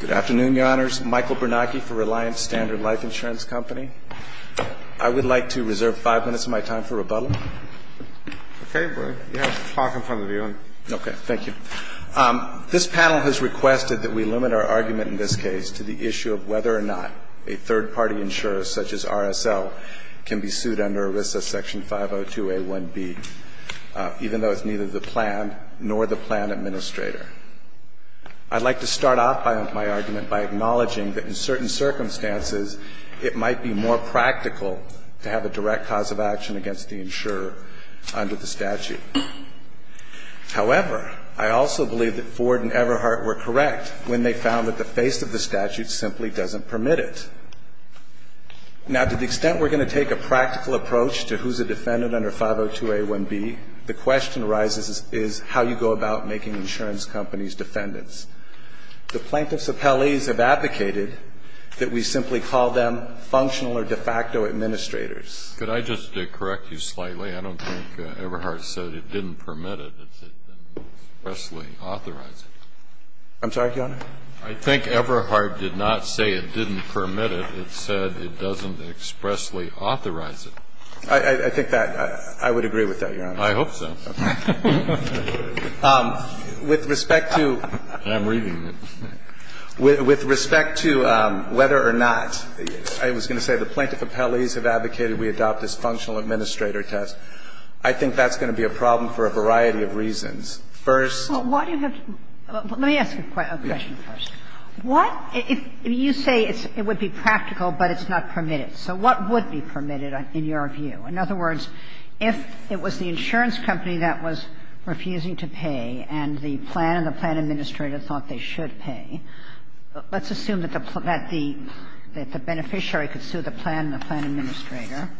Good afternoon, Your Honors. Michael Bernanke for Reliance Standard Life Insurance Company. I would like to reserve five minutes of my time for rebuttal. Okay. You have the clock in front of you. Okay. Thank you. This panel has requested that we limit our argument in this case to the issue of whether or not a third-party insurer, such as RSL, can be sued under ERISA Section 502A1B, even though it's neither the plan nor the plan administrator. I'd like to start off my argument by acknowledging that in certain circumstances, it might be more practical to have a direct cause of action against the insurer under the statute. However, I also believe that Ford and Everhart were correct when they found that the face of the statute simply doesn't permit it. Now, to the extent we're going to take a practical approach to who's a defendant under 502A1B, the question arises is how you go about making insurance companies defendants. The plaintiffs' appellees have advocated that we simply call them functional or de facto administrators. Could I just correct you slightly? I don't think Everhart said it didn't permit it. It didn't expressly authorize it. I'm sorry, Your Honor? I think Everhart did not say it didn't permit it. It said it doesn't expressly authorize it. I think that – I would agree with that, Your Honor. I hope so. With respect to – I'm reading it. With respect to whether or not, I was going to say the plaintiff appellees have advocated we adopt this functional administrator test, I think that's going to be a problem for a variety of reasons. First – Well, why do you have to – let me ask you a question first. What if you say it would be practical, but it's not permitted? So what would be permitted in your view? In other words, if it was the insurance company that was refusing to pay and the plan and the plan administrator thought they should pay, let's assume that the beneficiary could sue the plan and the plan administrator,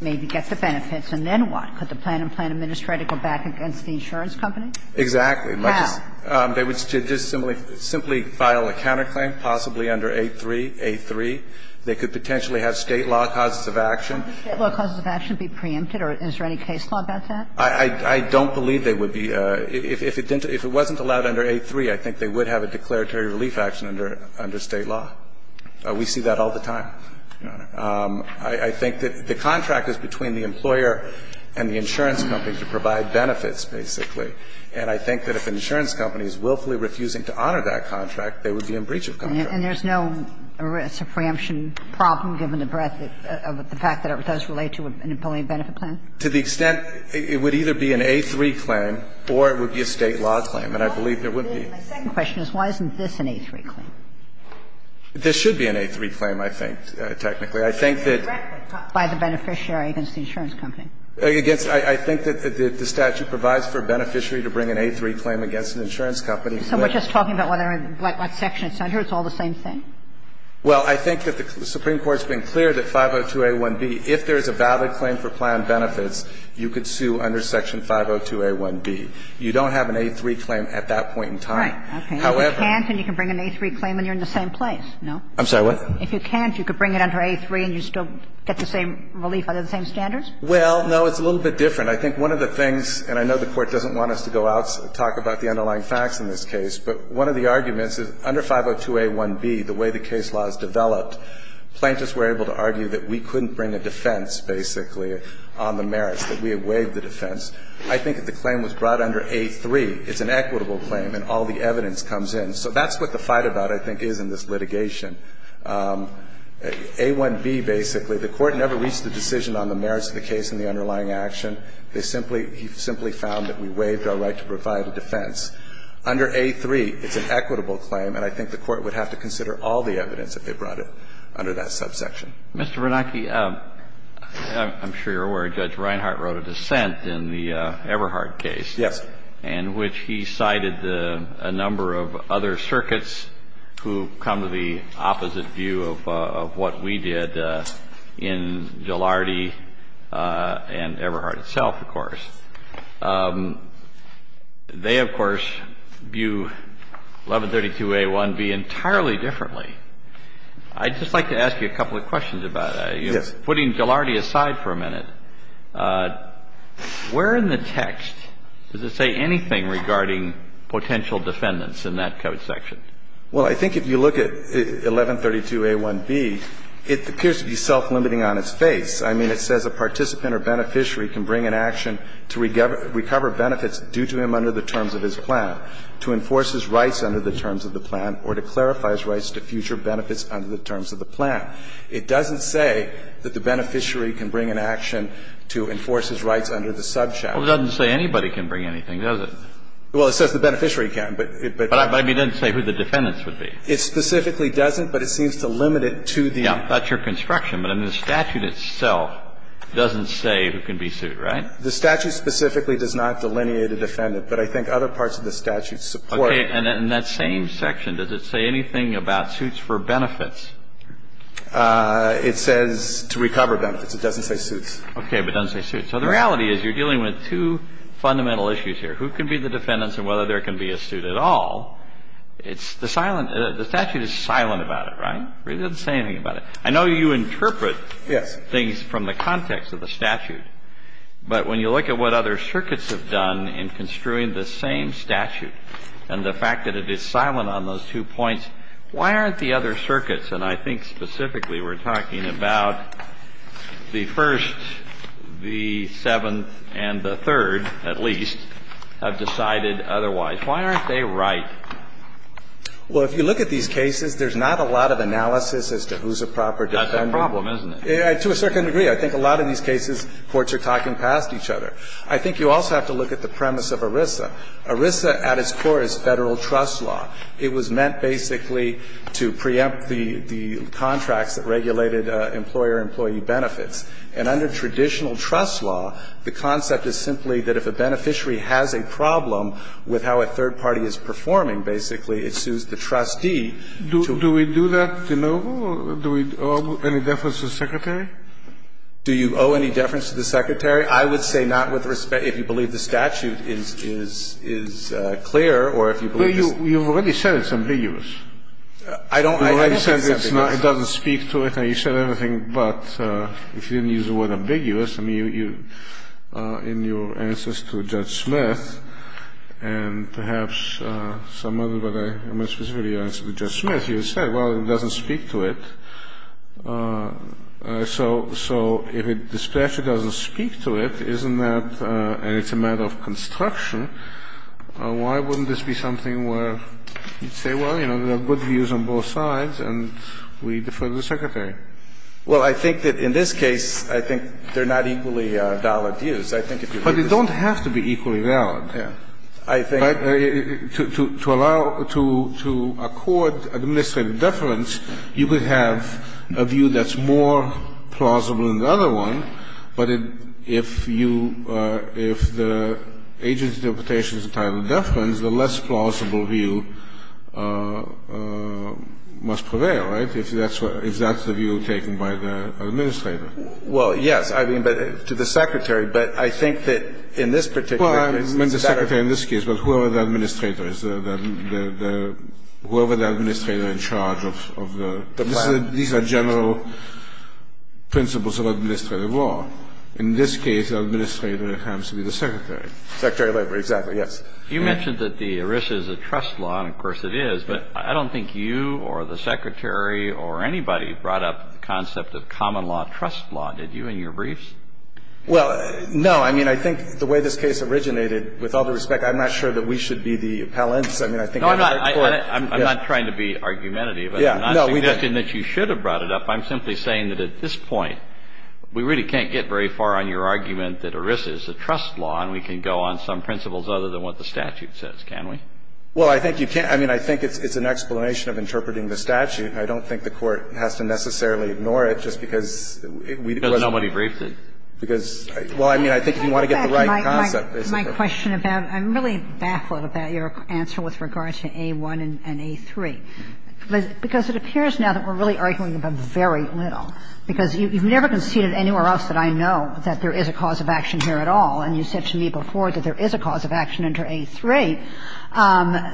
maybe get the benefits, and then what? Could the plan and plan administrator go back against the insurance company? Exactly. How? They would just simply file a counterclaim, possibly under 8383. They could potentially have State law causes of action. Could State law causes of action be preempted, or is there any case law about that? I don't believe they would be. If it wasn't allowed under 8383, I think they would have a declaratory relief action under State law. We see that all the time, Your Honor. I think that the contract is between the employer and the insurance company to provide benefits, basically. And I think that if an insurance company is willfully refusing to honor that contract, they would be in breach of contract. And there's no risk of preemption problem, given the breadth of the fact that it does relate to an employee benefit plan? To the extent it would either be an A3 claim or it would be a State law claim. And I believe there would be. My second question is why isn't this an A3 claim? This should be an A3 claim, I think, technically. I think that by the beneficiary against the insurance company. I think that the statute provides for a beneficiary to bring an A3 claim against an insurance company. So we're just talking about what section it's under? It's all the same thing? Well, I think that the Supreme Court's been clear that 502a1b, if there is a valid claim for plan benefits, you could sue under section 502a1b. You don't have an A3 claim at that point in time. Right. Okay. However. If you can't, then you can bring an A3 claim and you're in the same place, no? I'm sorry, what? If you can't, you could bring it under A3 and you still get the same relief under the same standards? Well, no, it's a little bit different. I think one of the things, and I know the Court doesn't want us to go out and talk about the underlying facts in this case, but one of the arguments is under 502a1b, the way the case law is developed, plaintiffs were able to argue that we couldn't bring a defense, basically, on the merits, that we had waived the defense. I think that the claim was brought under A3. It's an equitable claim and all the evidence comes in. So that's what the fight about, I think, is in this litigation. A1b, basically, the Court never reached a decision on the merits of the case and the underlying action. They simply – he simply found that we waived our right to provide a defense. Under A3, it's an equitable claim and I think the Court would have to consider all the evidence if they brought it under that subsection. Mr. Bernanke, I'm sure you're aware Judge Reinhart wrote a dissent in the Everhard case. Yes. In which he cited a number of other circuits who come to the opposite view of what we did in Gilardi and Everhard itself, of course. They, of course, view 1132a1b entirely differently. I'd just like to ask you a couple of questions about that. Yes. Putting Gilardi aside for a minute, where in the text does it say anything regarding potential defendants in that code section? Well, I think if you look at 1132a1b, it appears to be self-limiting on its face. I mean, it says a participant or beneficiary can bring an action to recover benefits due to him under the terms of his plan, to enforce his rights under the terms of the plan, or to clarify his rights to future benefits under the terms of the plan. It doesn't say that the beneficiary can bring an action to enforce his rights under the subsection. Well, it doesn't say anybody can bring anything, does it? Well, it says the beneficiary can, but it doesn't say who the defendants are. It doesn't say who the defendants would be. It specifically doesn't, but it seems to limit it to the ---- Yeah. That's your construction. But in the statute itself, it doesn't say who can be sued, right? The statute specifically does not delineate a defendant, but I think other parts of the statute support it. Okay. And in that same section, does it say anything about suits for benefits? It says to recover benefits. It doesn't say suits. Okay. But it doesn't say suits. So the reality is you're dealing with two fundamental issues here, who can be the defendants and whether there can be a suit at all. It's the silent ---- the statute is silent about it, right? It doesn't say anything about it. I know you interpret things from the context of the statute, but when you look at what other circuits have done in construing the same statute and the fact that it is silent on those two points, why aren't the other circuits, and I think specifically we're talking about the First, the Seventh, and the Third, at least, have decided otherwise, why aren't they right? Well, if you look at these cases, there's not a lot of analysis as to who's a proper defendant. That's a problem, isn't it? To a certain degree. I think a lot of these cases, courts are talking past each other. I think you also have to look at the premise of ERISA. ERISA at its core is Federal trust law. It was meant basically to preempt the contracts that regulated employer-employee benefits. And under traditional trust law, the concept is simply that if a beneficiary has a problem with how a third party is performing, basically, it sues the trustee. Do we do that de novo? Do we owe any deference to the Secretary? Do you owe any deference to the Secretary? I would say not with respect to if you believe the statute is clear or if you believe this. You've already said it's ambiguous. I don't think it's ambiguous. It doesn't speak to it, and you said everything, but if you didn't use the word And perhaps some other, but I'm going to specifically answer to Judge Smith. You said, well, it doesn't speak to it. So if the statute doesn't speak to it, isn't that and it's a matter of construction, why wouldn't this be something where you'd say, well, you know, there are good views on both sides and we defer to the Secretary? Well, I think that in this case, I think they're not equally valid views. But they don't have to be equally valid. Yeah. I think But to allow, to accord administrative deference, you could have a view that's more plausible than the other one, but if you, if the agency's interpretation is entitled to deference, the less plausible view must prevail, right, if that's the view taken by the administrator? Well, yes, I mean, but to the Secretary, but I think that in this particular case Well, I meant the Secretary in this case, but whoever the administrator is, whoever the administrator in charge of the The plan These are general principles of administrative law. In this case, the administrator happens to be the Secretary. Secretary of Labor, exactly, yes. You mentioned that the ERISA is a trust law, and of course it is, but I don't think you or the Secretary or anybody brought up the concept of common law trust law, did you, in your briefs? Well, no, I mean, I think the way this case originated, with all due respect, I'm not sure that we should be the appellants. I mean, I think No, I'm not trying to be argumentative, but I'm not suggesting that you should have brought it up. I'm simply saying that at this point, we really can't get very far on your argument that ERISA is a trust law, and we can go on some principles other than what the statute says, can we? Well, I think you can't. I mean, I think it's an explanation of interpreting the statute. I don't think the Court has to necessarily ignore it just because we Because nobody briefed it. Because, well, I mean, I think if you want to get the right concept, basically. My question about, I'm really baffled about your answer with regard to A-1 and A-3, because it appears now that we're really arguing about very little, because you've never conceded anywhere else that I know that there is a cause of action here at all, and you said to me before that there is a cause of action under A-3.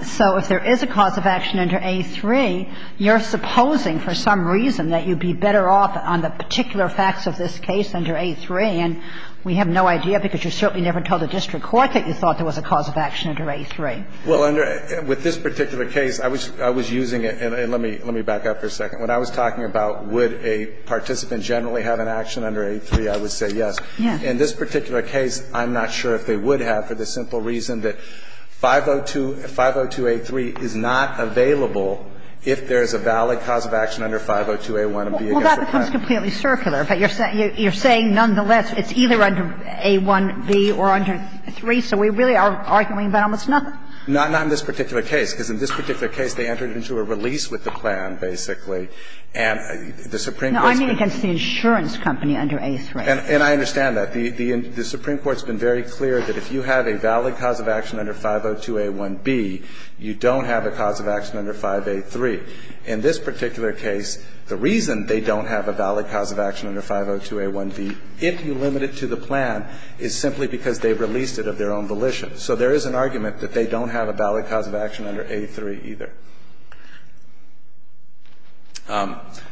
So if there is a cause of action under A-3, you're supposing for some reason that you'd be better off on the particular facts of this case under A-3, and we have no idea, because you certainly never told the district court that you thought there was a cause of action under A-3. Well, under this particular case, I was using it, and let me back up for a second. When I was talking about would a participant generally have an action under A-3, I would say yes. Yes. In this particular case, I'm not sure if they would have, for the simple reason that 502 – 502A3 is not available if there is a valid cause of action under 502A1 of being against the plan. Well, that becomes completely circular, but you're saying nonetheless it's either under A-1B or under A-3, so we really are arguing about almost nothing. Not in this particular case, because in this particular case, they entered into a release with the plan, basically, and the Supreme Court's been – No, I mean against the insurance company under A-3. And I understand that. The Supreme Court's been very clear that if you have a valid cause of action under 502A1B, you don't have a cause of action under 5A3. In this particular case, the reason they don't have a valid cause of action under 502A1B, if you limit it to the plan, is simply because they released it of their own volition. So there is an argument that they don't have a valid cause of action under A-3 either.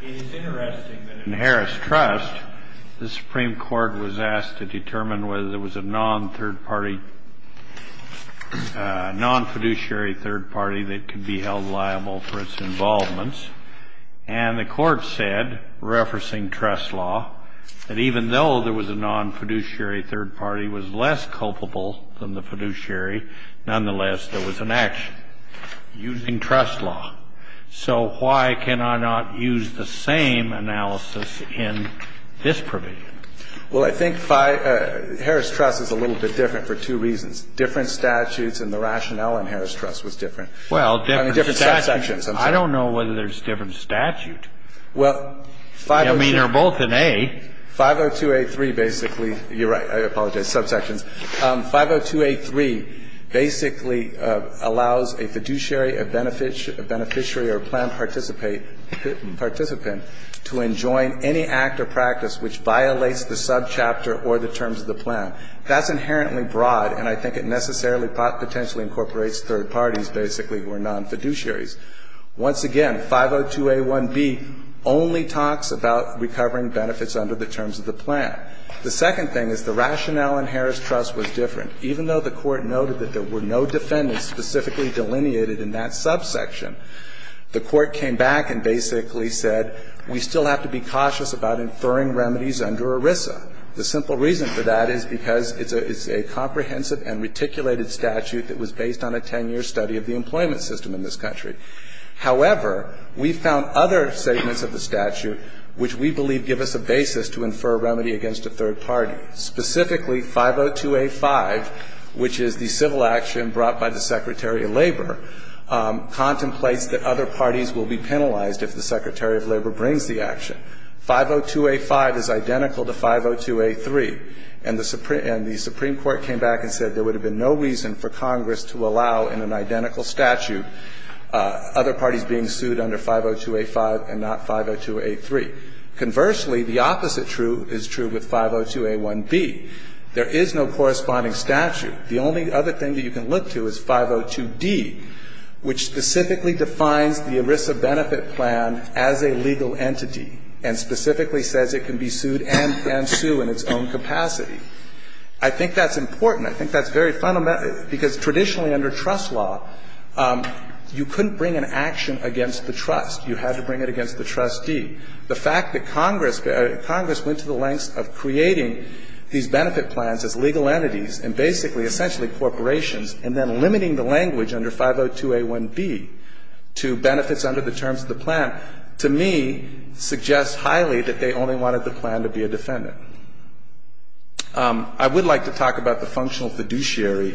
It is interesting that in Harris Trust, the Supreme Court was asked to determine whether there was a non-third party – non-fiduciary third party that could be held liable for its involvements. And the Court said, referencing trust law, that even though there was a non-fiduciary third party, it was less culpable than the fiduciary. Nonetheless, there was an action. Using trust law. So why can I not use the same analysis in this provision? Well, I think Harris Trust is a little bit different for two reasons. Different statutes and the rationale in Harris Trust was different. I mean, different subsections. I don't know whether there's different statute. I mean, they're both in A. 502A3 basically – you're right, I apologize, subsections. 502A3 basically allows a fiduciary, a beneficiary or plan participant to enjoin any act or practice which violates the subchapter or the terms of the plan. That's inherently broad, and I think it necessarily potentially incorporates third parties, basically, who are non-fiduciaries. Once again, 502A1B only talks about recovering benefits under the terms of the plan. The second thing is the rationale in Harris Trust was different. Even though the Court noted that there were no defendants specifically delineated in that subsection, the Court came back and basically said we still have to be cautious about inferring remedies under ERISA. The simple reason for that is because it's a comprehensive and reticulated statute that was based on a 10-year study of the employment system in this country. However, we found other statements of the statute which we believe give us a basis to infer a remedy against a third party. Specifically, 502A5, which is the civil action brought by the Secretary of Labor, contemplates that other parties will be penalized if the Secretary of Labor brings the action. 502A5 is identical to 502A3, and the Supreme Court came back and said there would have been no reason for Congress to allow in an identical statute other parties being sued under 502A5 and not 502A3. Conversely, the opposite is true with 502A1B. There is no corresponding statute. The only other thing that you can look to is 502D, which specifically defines the ERISA benefit plan as a legal entity and specifically says it can be sued and sued in its own capacity. I think that's important. I think that's very fundamental, because traditionally under trust law, you couldn't bring an action against the trust. You had to bring it against the trustee. The fact that Congress, Congress went to the lengths of creating these benefit plans as legal entities and basically essentially corporations and then limiting the language under 502A1B to benefits under the terms of the plan, to me, suggests highly that they only wanted the plan to be a defendant. I would like to talk about the functional fiduciary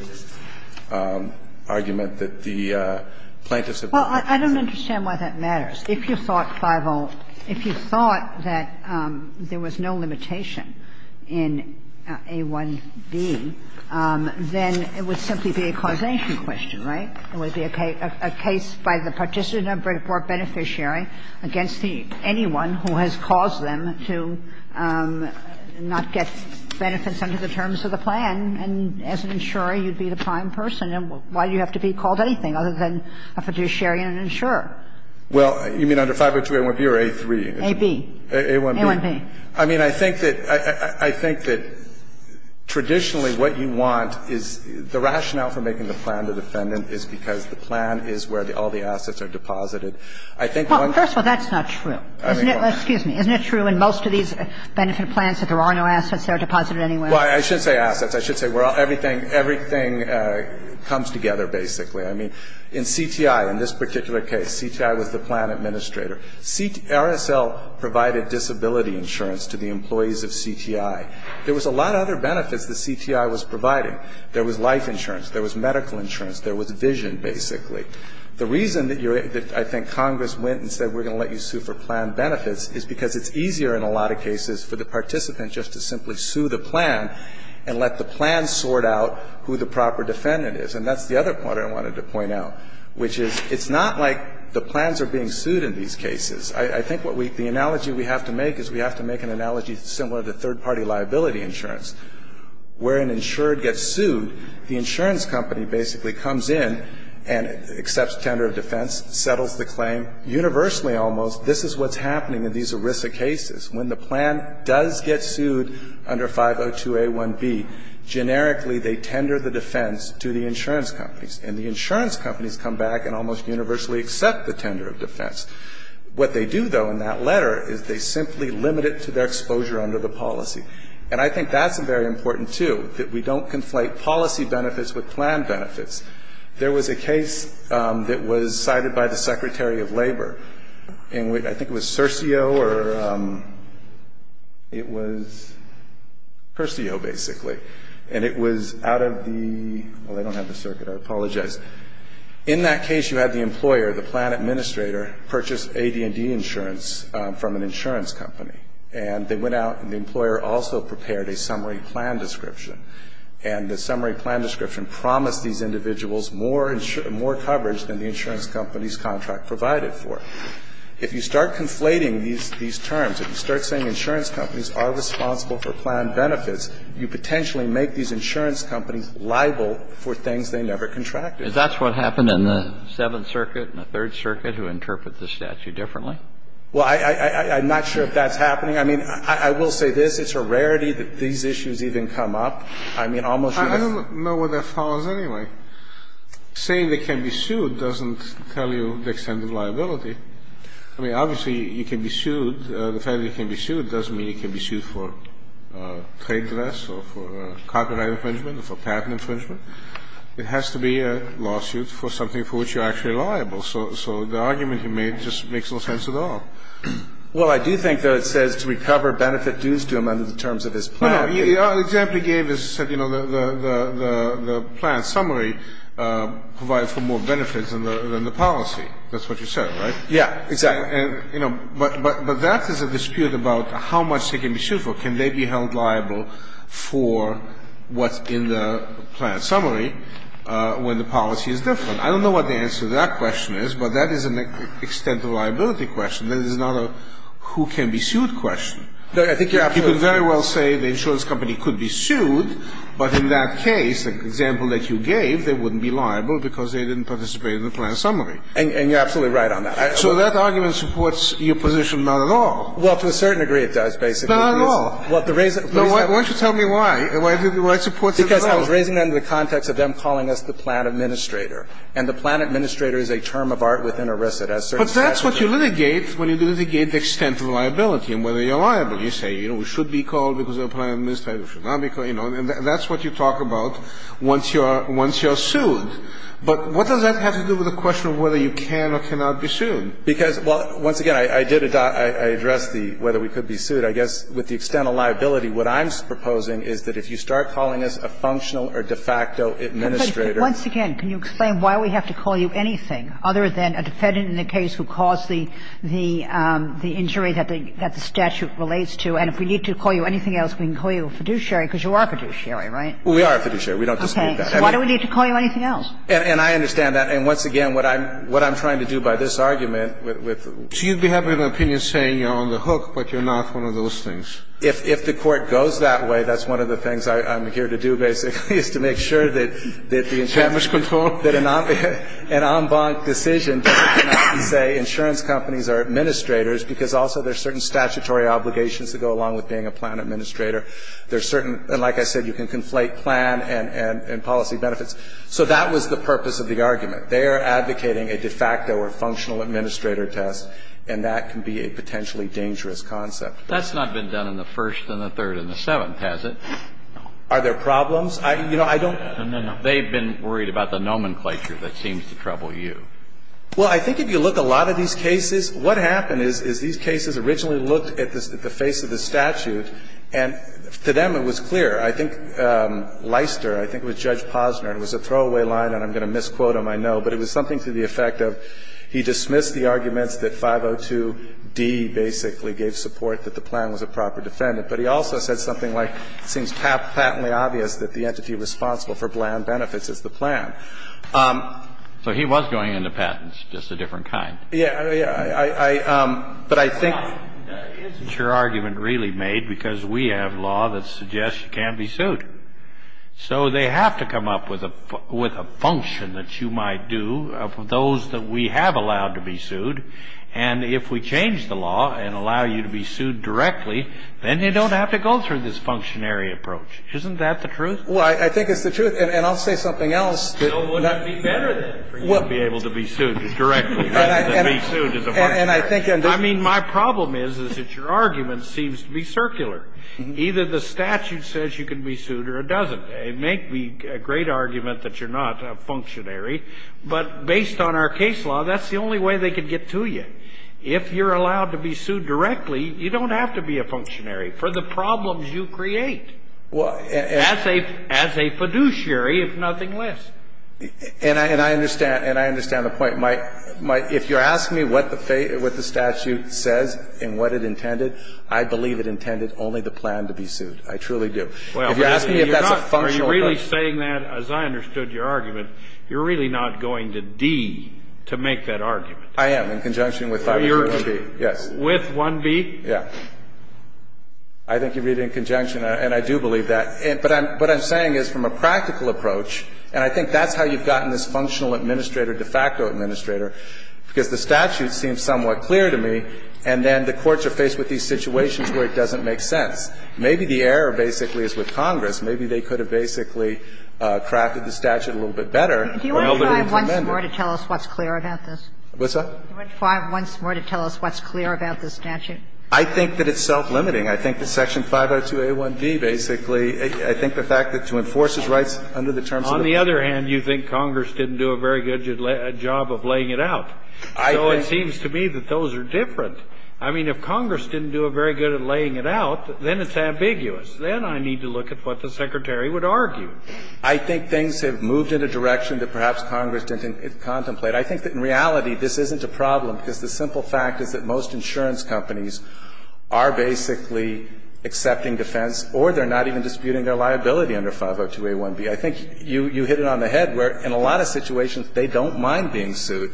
argument that the plaintiffs have made. Well, I don't understand why that matters. If you thought, 5-0, if you thought that there was no limitation in A1B, then it would simply be a causation question, right? It would be a case by the participant or beneficiary against anyone who has caused them to not get benefits under the terms of the plan, and as an insurer, you'd be the prime person. Why do you have to be called anything other than a fiduciary and an insurer? Well, you mean under 502A1B or A3? A-B. A-1B. I mean, I think that, I think that traditionally what you want is the rationale for making the plan the defendant is because the plan is where all the assets are deposited. I think one of the things that's not true, excuse me, isn't it true in most of these benefit plans that there are no assets that are deposited anywhere? Well, I should say assets. I should say where everything comes together, basically. I mean, in CTI, in this particular case, CTI was the plan administrator. RSL provided disability insurance to the employees of CTI. There was a lot of other benefits that CTI was providing. There was life insurance. There was medical insurance. There was vision, basically. The reason that I think Congress went and said we're going to let you sue for plan benefits is because it's easier in a lot of cases for the participant just to simply go through the plan and let the plan sort out who the proper defendant is. And that's the other part I wanted to point out, which is it's not like the plans are being sued in these cases. I think what we the analogy we have to make is we have to make an analogy similar to third-party liability insurance. Where an insured gets sued, the insurance company basically comes in and accepts tender of defense, settles the claim, universally almost, this is what's happening in these ERISA cases. When the plan does get sued under 502A1B, generically they tender the defense to the insurance companies. And the insurance companies come back and almost universally accept the tender of defense. What they do, though, in that letter is they simply limit it to their exposure under the policy. And I think that's very important, too, that we don't conflate policy benefits with plan benefits. There was a case that was cited by the Secretary of Labor. I think it was Cersio or it was Cursio, basically. And it was out of the, well, they don't have the circuit. I apologize. In that case, you had the employer, the plan administrator, purchase AD&D insurance from an insurance company. And they went out and the employer also prepared a summary plan description. And the summary plan description promised these individuals more coverage than the insurance company's contract provided for. If you start conflating these terms, if you start saying insurance companies are responsible for plan benefits, you potentially make these insurance companies liable for things they never contracted. And that's what happened in the Seventh Circuit and the Third Circuit, who interpret the statute differently. Well, I'm not sure if that's happening. I mean, I will say this. It's a rarity that these issues even come up. I mean, almost universally. But that's what that follows anyway. Saying they can be sued doesn't tell you the extent of liability. I mean, obviously you can be sued. The fact that you can be sued doesn't mean you can be sued for trade divest or for copyright infringement or for patent infringement. It has to be a lawsuit for something for which you're actually liable. So the argument he made just makes no sense at all. Well, I do think, though, it says to recover benefit dues to him under the terms of his plan. No, no. The example he gave is that, you know, the plan summary provides for more benefits than the policy. That's what you said, right? Yeah, exactly. And, you know, but that is a dispute about how much they can be sued for. Can they be held liable for what's in the plan summary when the policy is different? I don't know what the answer to that question is, but that is an extent of liability question. That is not a who can be sued question. I think you're absolutely right. You could very well say the insurance company could be sued, but in that case, the example that you gave, they wouldn't be liable because they didn't participate in the plan summary. And you're absolutely right on that. So that argument supports your position not at all. Well, to a certain degree it does, basically. Not at all. Why don't you tell me why? Why does it support it at all? Because I was raising that in the context of them calling us the plan administrator. And the plan administrator is a term of art within ERISA. But that's what you litigate when you litigate the extent of liability and whether or not you're liable. You say, you know, we should be called because of a plan administrator. We should not be called, you know. And that's what you talk about once you are sued. But what does that have to do with the question of whether you can or cannot be sued? Because, well, once again, I did address the whether we could be sued. I guess with the extent of liability, what I'm proposing is that if you start calling us a functional or de facto administrator. Once again, can you explain why we have to call you anything other than a defendant in the case who caused the injury that the statute relates to? And if we need to call you anything else, we can call you a fiduciary, because you are a fiduciary, right? We are a fiduciary. We don't dispute that. Okay. So why do we need to call you anything else? And I understand that. And once again, what I'm trying to do by this argument with the ---- So you'd be having an opinion saying you're on the hook, but you're not one of those things. If the Court goes that way, that's one of the things I'm here to do, basically, is to make sure that the enchantment control, that an en banc decision doesn't be a de facto or functional administrator test. I'm not trying to say insurance companies are administrators because also there's certain statutory obligations that go along with being a plan administrator. There's certain ---- and like I said, you can conflate plan and policy benefits. So that was the purpose of the argument. They are advocating a de facto or functional administrator test, and that can be a potentially dangerous concept. That's not been done in the First and the Third and the Seventh, has it? No. Are there problems? You know, I don't ---- No, no, no. They've been worried about the nomenclature that seems to trouble you. Well, I think if you look at a lot of these cases, what happened is these cases originally looked at the face of the statute, and to them it was clear. I think Leister, I think it was Judge Posner, it was a throwaway line, and I'm going to misquote him, I know, but it was something to the effect of he dismissed the arguments that 502d basically gave support that the plan was a proper defendant. But he also said something like it seems patently obvious that the entity responsible for bland benefits is the plan. So he was going into patents, just a different kind. Yes. But I think ---- Isn't your argument really made because we have law that suggests you can't be sued? So they have to come up with a function that you might do for those that we have allowed to be sued. And if we change the law and allow you to be sued directly, then you don't have to go through this functionary approach. Isn't that the truth? Well, I think it's the truth. And I'll say something else. So it would not be better, then, for you to be able to be sued directly rather than be sued as a functionary. And I think ---- I mean, my problem is, is that your argument seems to be circular. Either the statute says you can be sued or it doesn't. It may be a great argument that you're not a functionary, but based on our case law, that's the only way they could get to you. If you're allowed to be sued directly, you don't have to be a functionary for the problems you create. Well, and ---- As a fiduciary, if nothing less. And I understand. And I understand the point. My ---- If you're asking me what the statute says and what it intended, I believe it intended only the plan to be sued. I truly do. If you're asking me if that's a functional ---- Are you really saying that, as I understood your argument, you're really not going to D to make that argument? I am, in conjunction with 5-1-3-1-B. Yes. With 1-B? Yes. I think you read it in conjunction, and I do believe that. But what I'm saying is, from a practical approach, and I think that's how you've gotten this functional administrator de facto administrator, because the statute seems somewhat clear to me, and then the courts are faced with these situations where it doesn't make sense. Maybe the error basically is with Congress. Maybe they could have basically crafted the statute a little bit better. Do you want to try once more to tell us what's clear about this? What's that? Do you want to try once more to tell us what's clear about this statute? I think that it's self-limiting. I think that Section 502A1B basically, I think the fact that to enforce his rights under the terms of the statute. On the other hand, you think Congress didn't do a very good job of laying it out. So it seems to me that those are different. I mean, if Congress didn't do a very good at laying it out, then it's ambiguous. Then I need to look at what the Secretary would argue. I think things have moved in a direction that perhaps Congress didn't contemplate. I think that in reality this isn't a problem, because the simple fact is that most insurance companies are basically accepting defense or they're not even disputing their liability under 502A1B. I think you hit it on the head where in a lot of situations they don't mind being sued.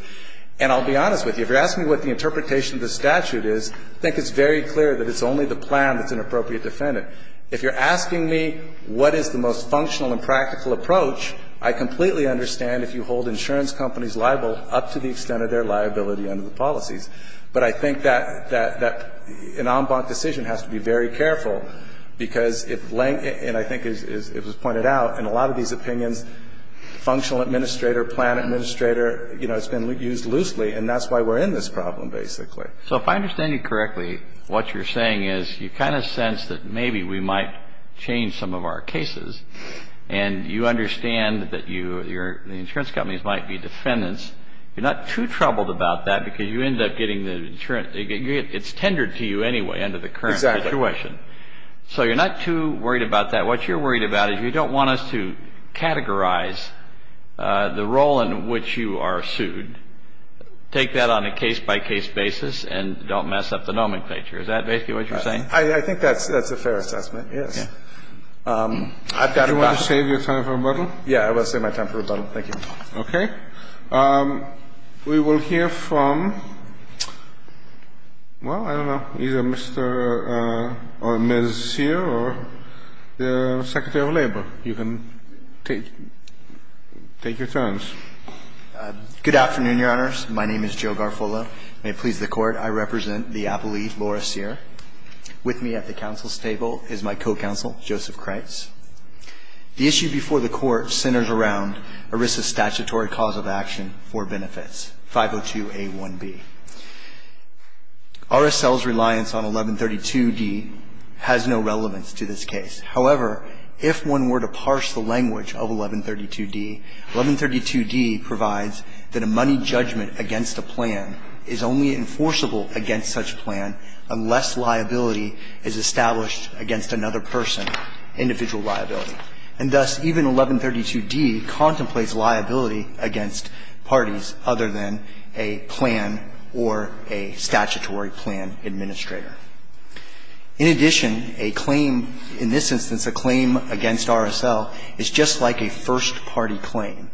And I'll be honest with you. If you're asking me what the interpretation of the statute is, I think it's very clear that it's only the plan that's an appropriate defendant. If you're asking me what is the most functional and practical approach, I completely understand if you hold insurance companies liable up to the extent of their liability under the policies. But I think that an en banc decision has to be very careful, because if laying it, and I think it was pointed out in a lot of these opinions, functional administrator, plan administrator, you know, it's been used loosely, and that's why we're in this problem, basically. So if I understand you correctly, what you're saying is you kind of sense that maybe we might change some of our cases, and you understand that the insurance companies might be defendants. You're not too troubled about that, because you end up getting the insurance. It's tendered to you anyway under the current situation. Exactly. So you're not too worried about that. What you're worried about is you don't want us to categorize the role in which you are sued. Take that on a case-by-case basis and don't mess up the nomenclature. Is that basically what you're saying? I think that's a fair assessment, yes. Yeah. I've got a question. Do you want to save your time for rebuttal? Yeah, I will save my time for rebuttal. Thank you. Okay. We will hear from, well, I don't know, either Mr. or Ms. Sear or the Secretary of Labor. You can take your turns. Good afternoon, Your Honors. My name is Joe Garfolo. May it please the Court, I represent the appellee, Laura Sear. With me at the counsel's table is my co-counsel, Joseph Kreitz. The issue before the Court centers around ERISA's statutory cause of action for benefits, 502A1B. RSL's reliance on 1132D has no relevance to this case. However, if one were to parse the language of 1132D, 1132D provides that a money judgment against a plan is only enforceable against such plan unless liability is established against another person, individual liability. And thus, even 1132D contemplates liability against parties other than a plan or a statutory plan administrator. In addition, a claim in this instance, a claim against RSL, is just like a first-party claim.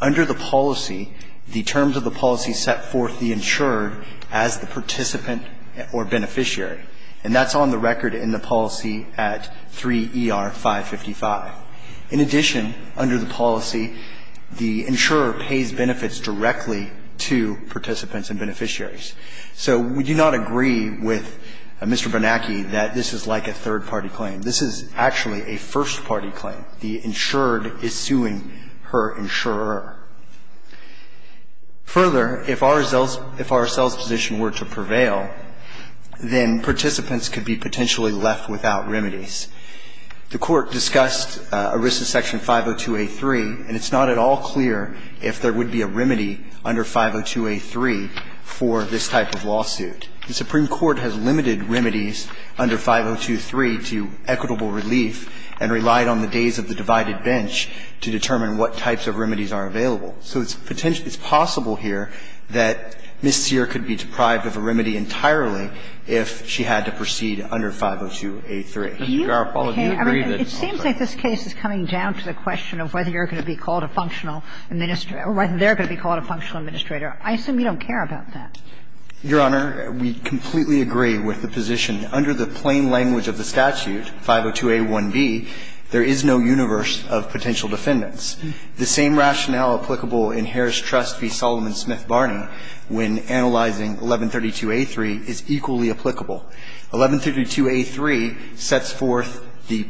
Under the policy, the terms of the policy set forth the insurer as the participant or beneficiary, and that's on the record in the policy at 3 ER 555. In addition, under the policy, the insurer pays benefits directly to participants and beneficiaries. So we do not agree with Mr. Bernanke that this is like a third-party claim. This is actually a first-party claim. The insured is suing her insurer. Further, if RSL's position were to prevail, then participants could be potentially left without remedies. The Court discussed ERISA section 502A3, and it's not at all clear if there would be a remedy under 502A3 for this type of lawsuit. The Supreme Court has limited remedies under 502A3 to equitable relief and relied on the days of the divided bench to determine what types of remedies are available. So it's possible here that Ms. Sear could be deprived of a remedy entirely if she had to proceed under 502A3. Kagan is right. They're going to be called a functional administrator. I assume you don't care about that. Your Honor, we completely agree with the position. Under the plain language of the statute, 502A1b, there is no universe of potential defendants. The same rationale applicable in Harris Trust v. Solomon Smith Barney when analyzing 1132A3 is equally applicable. 1132A3 sets forth the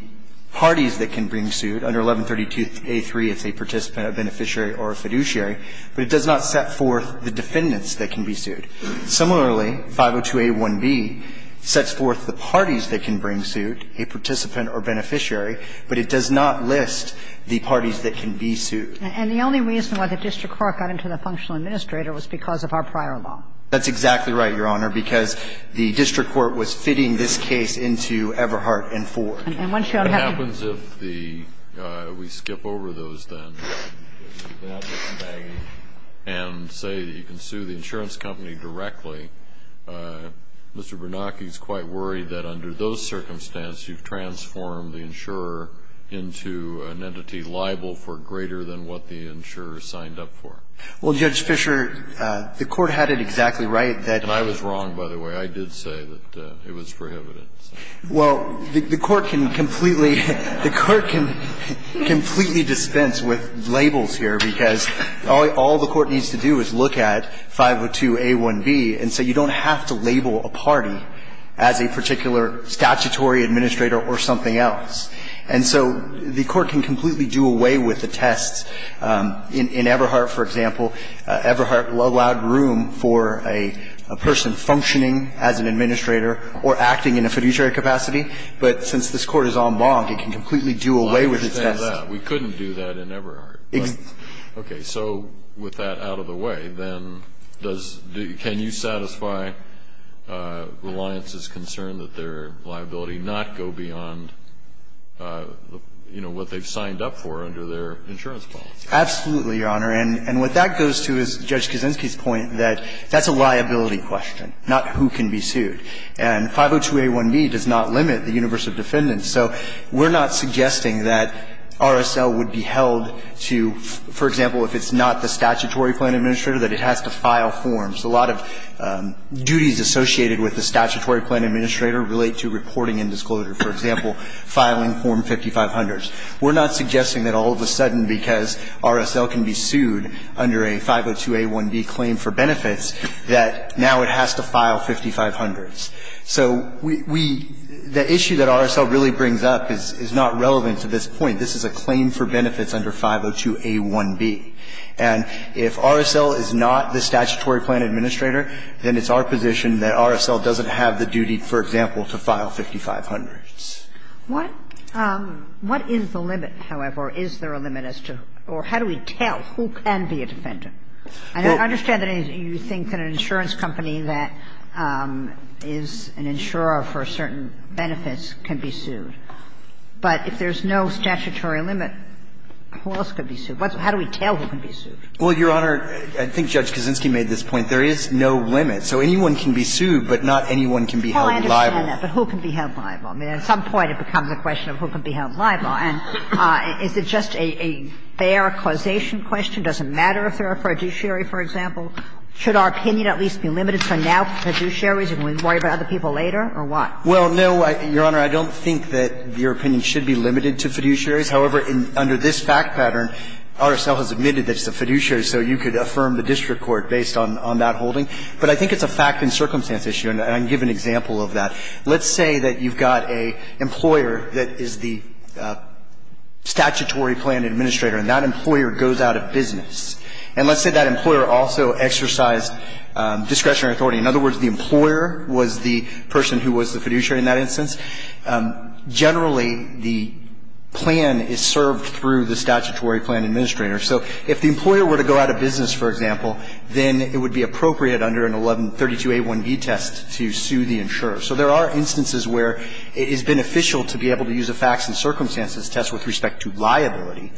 parties that can bring suit. Under 1132A3, it's a participant, a beneficiary, or a fiduciary, but it does not set forth the defendants that can be sued. Similarly, 502A1b sets forth the parties that can bring suit, a participant or beneficiary, but it does not list the parties that can be sued. And the only reason why the district court got into the functional administrator was because of our prior law. That's exactly right, Your Honor, because the district court was fitting this case into Everhart and Ford. And once you have the ---- What happens if the we skip over those then and say you can sue the insurance company directly, Mr. Bernanke is quite worried that under those circumstances you've transformed the insurer into an entity liable for greater than what the insurer signed up for. Well, Judge Fischer, the Court had it exactly right that ---- And I was wrong, by the way. I did say that it was prohibited. Well, the Court can completely ---- The Court can completely dispense with labels here because all the Court needs to do is look at 502A1b, and so you don't have to label a party as a particular statutory administrator or something else. And so the Court can completely do away with the tests. In Everhart, for example, Everhart allowed room for a person functioning as an administrator or acting in a fiduciary capacity, but since this Court is en banc, it can completely do away with its tests. I understand that. We couldn't do that in Everhart. Okay. So with that out of the way, then does the ---- can you satisfy Reliance's concern that their liability not go beyond, you know, what they've signed up for under their insurance policy? Absolutely, Your Honor. And what that goes to is Judge Kaczynski's point that that's a liability question, not who can be sued. And 502A1b does not limit the universe of defendants. So we're not suggesting that RSL would be held to, for example, if it's not the statutory plan administrator, that it has to file forms. A lot of duties associated with the statutory plan administrator relate to reporting and disclosure. For example, filing form 5500s. We're not suggesting that all of a sudden, because RSL can be sued under a 502A1b claim for benefits, that now it has to file 5500s. So we ---- the issue that RSL really brings up is not relevant to this point. This is a claim for benefits under 502A1b. And if RSL is not the statutory plan administrator, then it's our position that RSL doesn't have the duty, for example, to file 5500s. What is the limit, however? Is there a limit as to ---- or how do we tell who can be a defendant? And I understand that you think that an insurance company that is an insurer for certain benefits can be sued. But if there's no statutory limit, who else could be sued? How do we tell who can be sued? Well, Your Honor, I think Judge Kaczynski made this point. There is no limit. So anyone can be sued, but not anyone can be held liable. Well, I understand that. But who can be held liable? I mean, at some point it becomes a question of who can be held liable. And is it just a fair causation question? Does it matter if they're a fiduciary, for example? Should our opinion at least be limited to now fiduciaries and we worry about other people later, or what? Well, no, Your Honor, I don't think that your opinion should be limited to fiduciaries. However, under this fact pattern, RSL has admitted that it's a fiduciary, so you could affirm the district court based on that holding. But I think it's a fact and circumstance issue, and I can give an example of that. Let's say that you've got an employer that is the statutory plan administrator, and that employer goes out of business. And let's say that employer also exercised discretionary authority. In other words, the employer was the person who was the fiduciary in that instance. Generally, the plan is served through the statutory plan administrator. So if the employer were to go out of business, for example, then it would be appropriate under an 1132a1b test to sue the insurer. So there are instances where it is beneficial to be able to use a facts and circumstances test with respect to liability.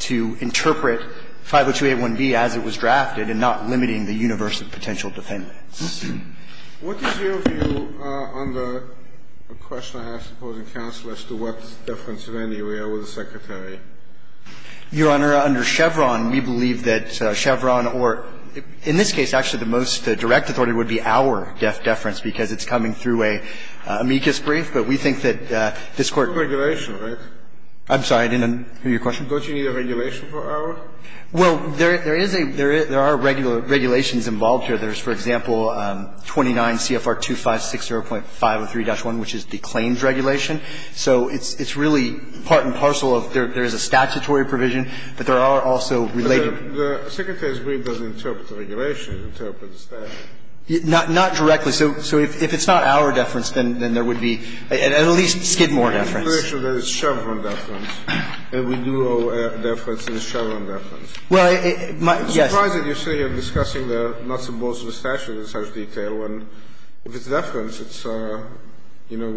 To interpret 502a1b as it was drafted and not limiting the universe of potential defendants. What is your view on the question I have, supposing counsel, as to what deference in any way I owe the Secretary? Your Honor, under Chevron, we believe that Chevron or – in this case, actually, the most direct authority would be our deference, because it's coming through an amicus brief. But we think that this Court – It's a regulation, right? I'm sorry. I didn't hear your question. Don't you need a regulation for our? Well, there is a – there are regulations involved here. There's, for example, 29 CFR 2560.503-1, which is the claims regulation. So it's really part and parcel of – there is a statutory provision, but there are also related – But the Secretary's brief doesn't interpret the regulation. It interprets the statute. Not directly. So if it's not our deference, then there would be at least Skidmore deference. Well, it's a regulation that it's Chevron deference, and we do owe deference in the Chevron deference. Well, it – my – yes. I'm surprised that you're sitting here discussing the nuts and bolts of the statute in such detail, when if it's deference, it's – you know,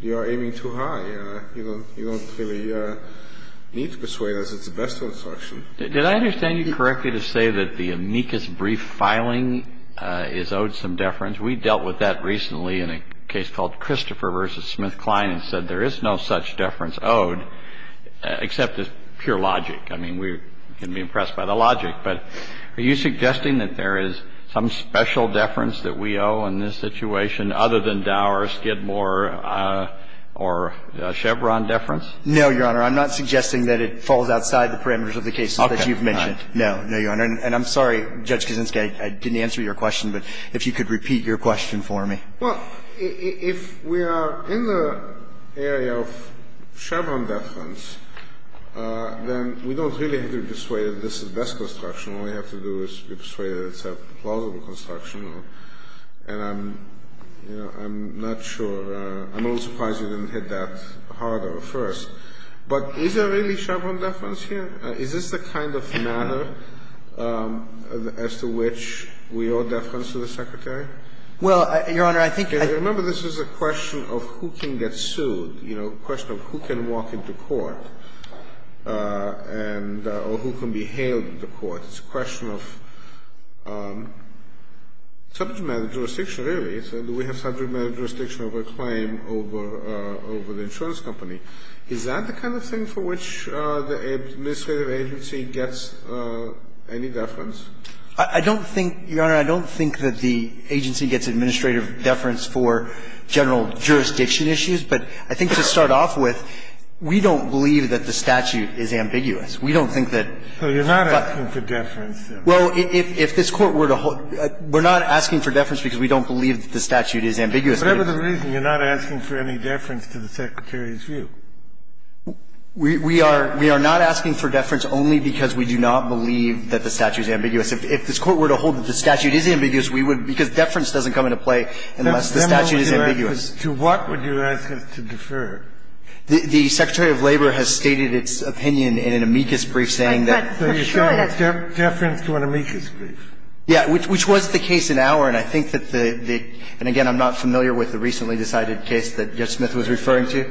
you are aiming too high. You don't really need to persuade us it's the best instruction. Did I understand you correctly to say that the amicus brief filing is owed some deference? We dealt with that recently in a case called Christopher v. SmithKline and said there is no such deference owed, except as pure logic. I mean, we can be impressed by the logic. But are you suggesting that there is some special deference that we owe in this situation other than Dow or Skidmore or Chevron deference? No, Your Honor. I'm not suggesting that it falls outside the parameters of the cases that you've mentioned. No. No, Your Honor. And I'm sorry, Judge Kuczynski, I didn't answer your question, but if you could repeat your question for me. Well, if we are in the area of Chevron deference, then we don't really have to persuade us this is the best construction. All we have to do is persuade us it's a plausible construction. And I'm not sure – I'm a little surprised you didn't hit that harder at first. But is there really Chevron deference here? Is this the kind of matter as to which we owe deference to the Secretary? Well, Your Honor, I think I – Remember, this is a question of who can get sued, you know, a question of who can walk into court and – or who can be hailed into court. It's a question of subject matter jurisdiction, really. So do we have subject matter jurisdiction over a claim over the insurance company? Is that the kind of thing for which the administrative agency gets any deference? I don't think, Your Honor, I don't think that the agency gets administrative deference for general jurisdiction issues. But I think to start off with, we don't believe that the statute is ambiguous. We don't think that – So you're not asking for deference, then? Well, if this Court were to hold – we're not asking for deference because we don't believe that the statute is ambiguous. Whatever the reason, you're not asking for any deference to the Secretary's view. We are not asking for deference only because we do not believe that the statute is ambiguous. If this Court were to hold that the statute is ambiguous, we would – because deference doesn't come into play unless the statute is ambiguous. That's similar to what would you ask us to defer? The Secretary of Labor has stated its opinion in an amicus brief, saying that – But for sure that's – Deference to an amicus brief. Yeah, which was the case in Auer, and I think that the – and again, I'm not familiar with the recently decided case that Judge Smith was referring to,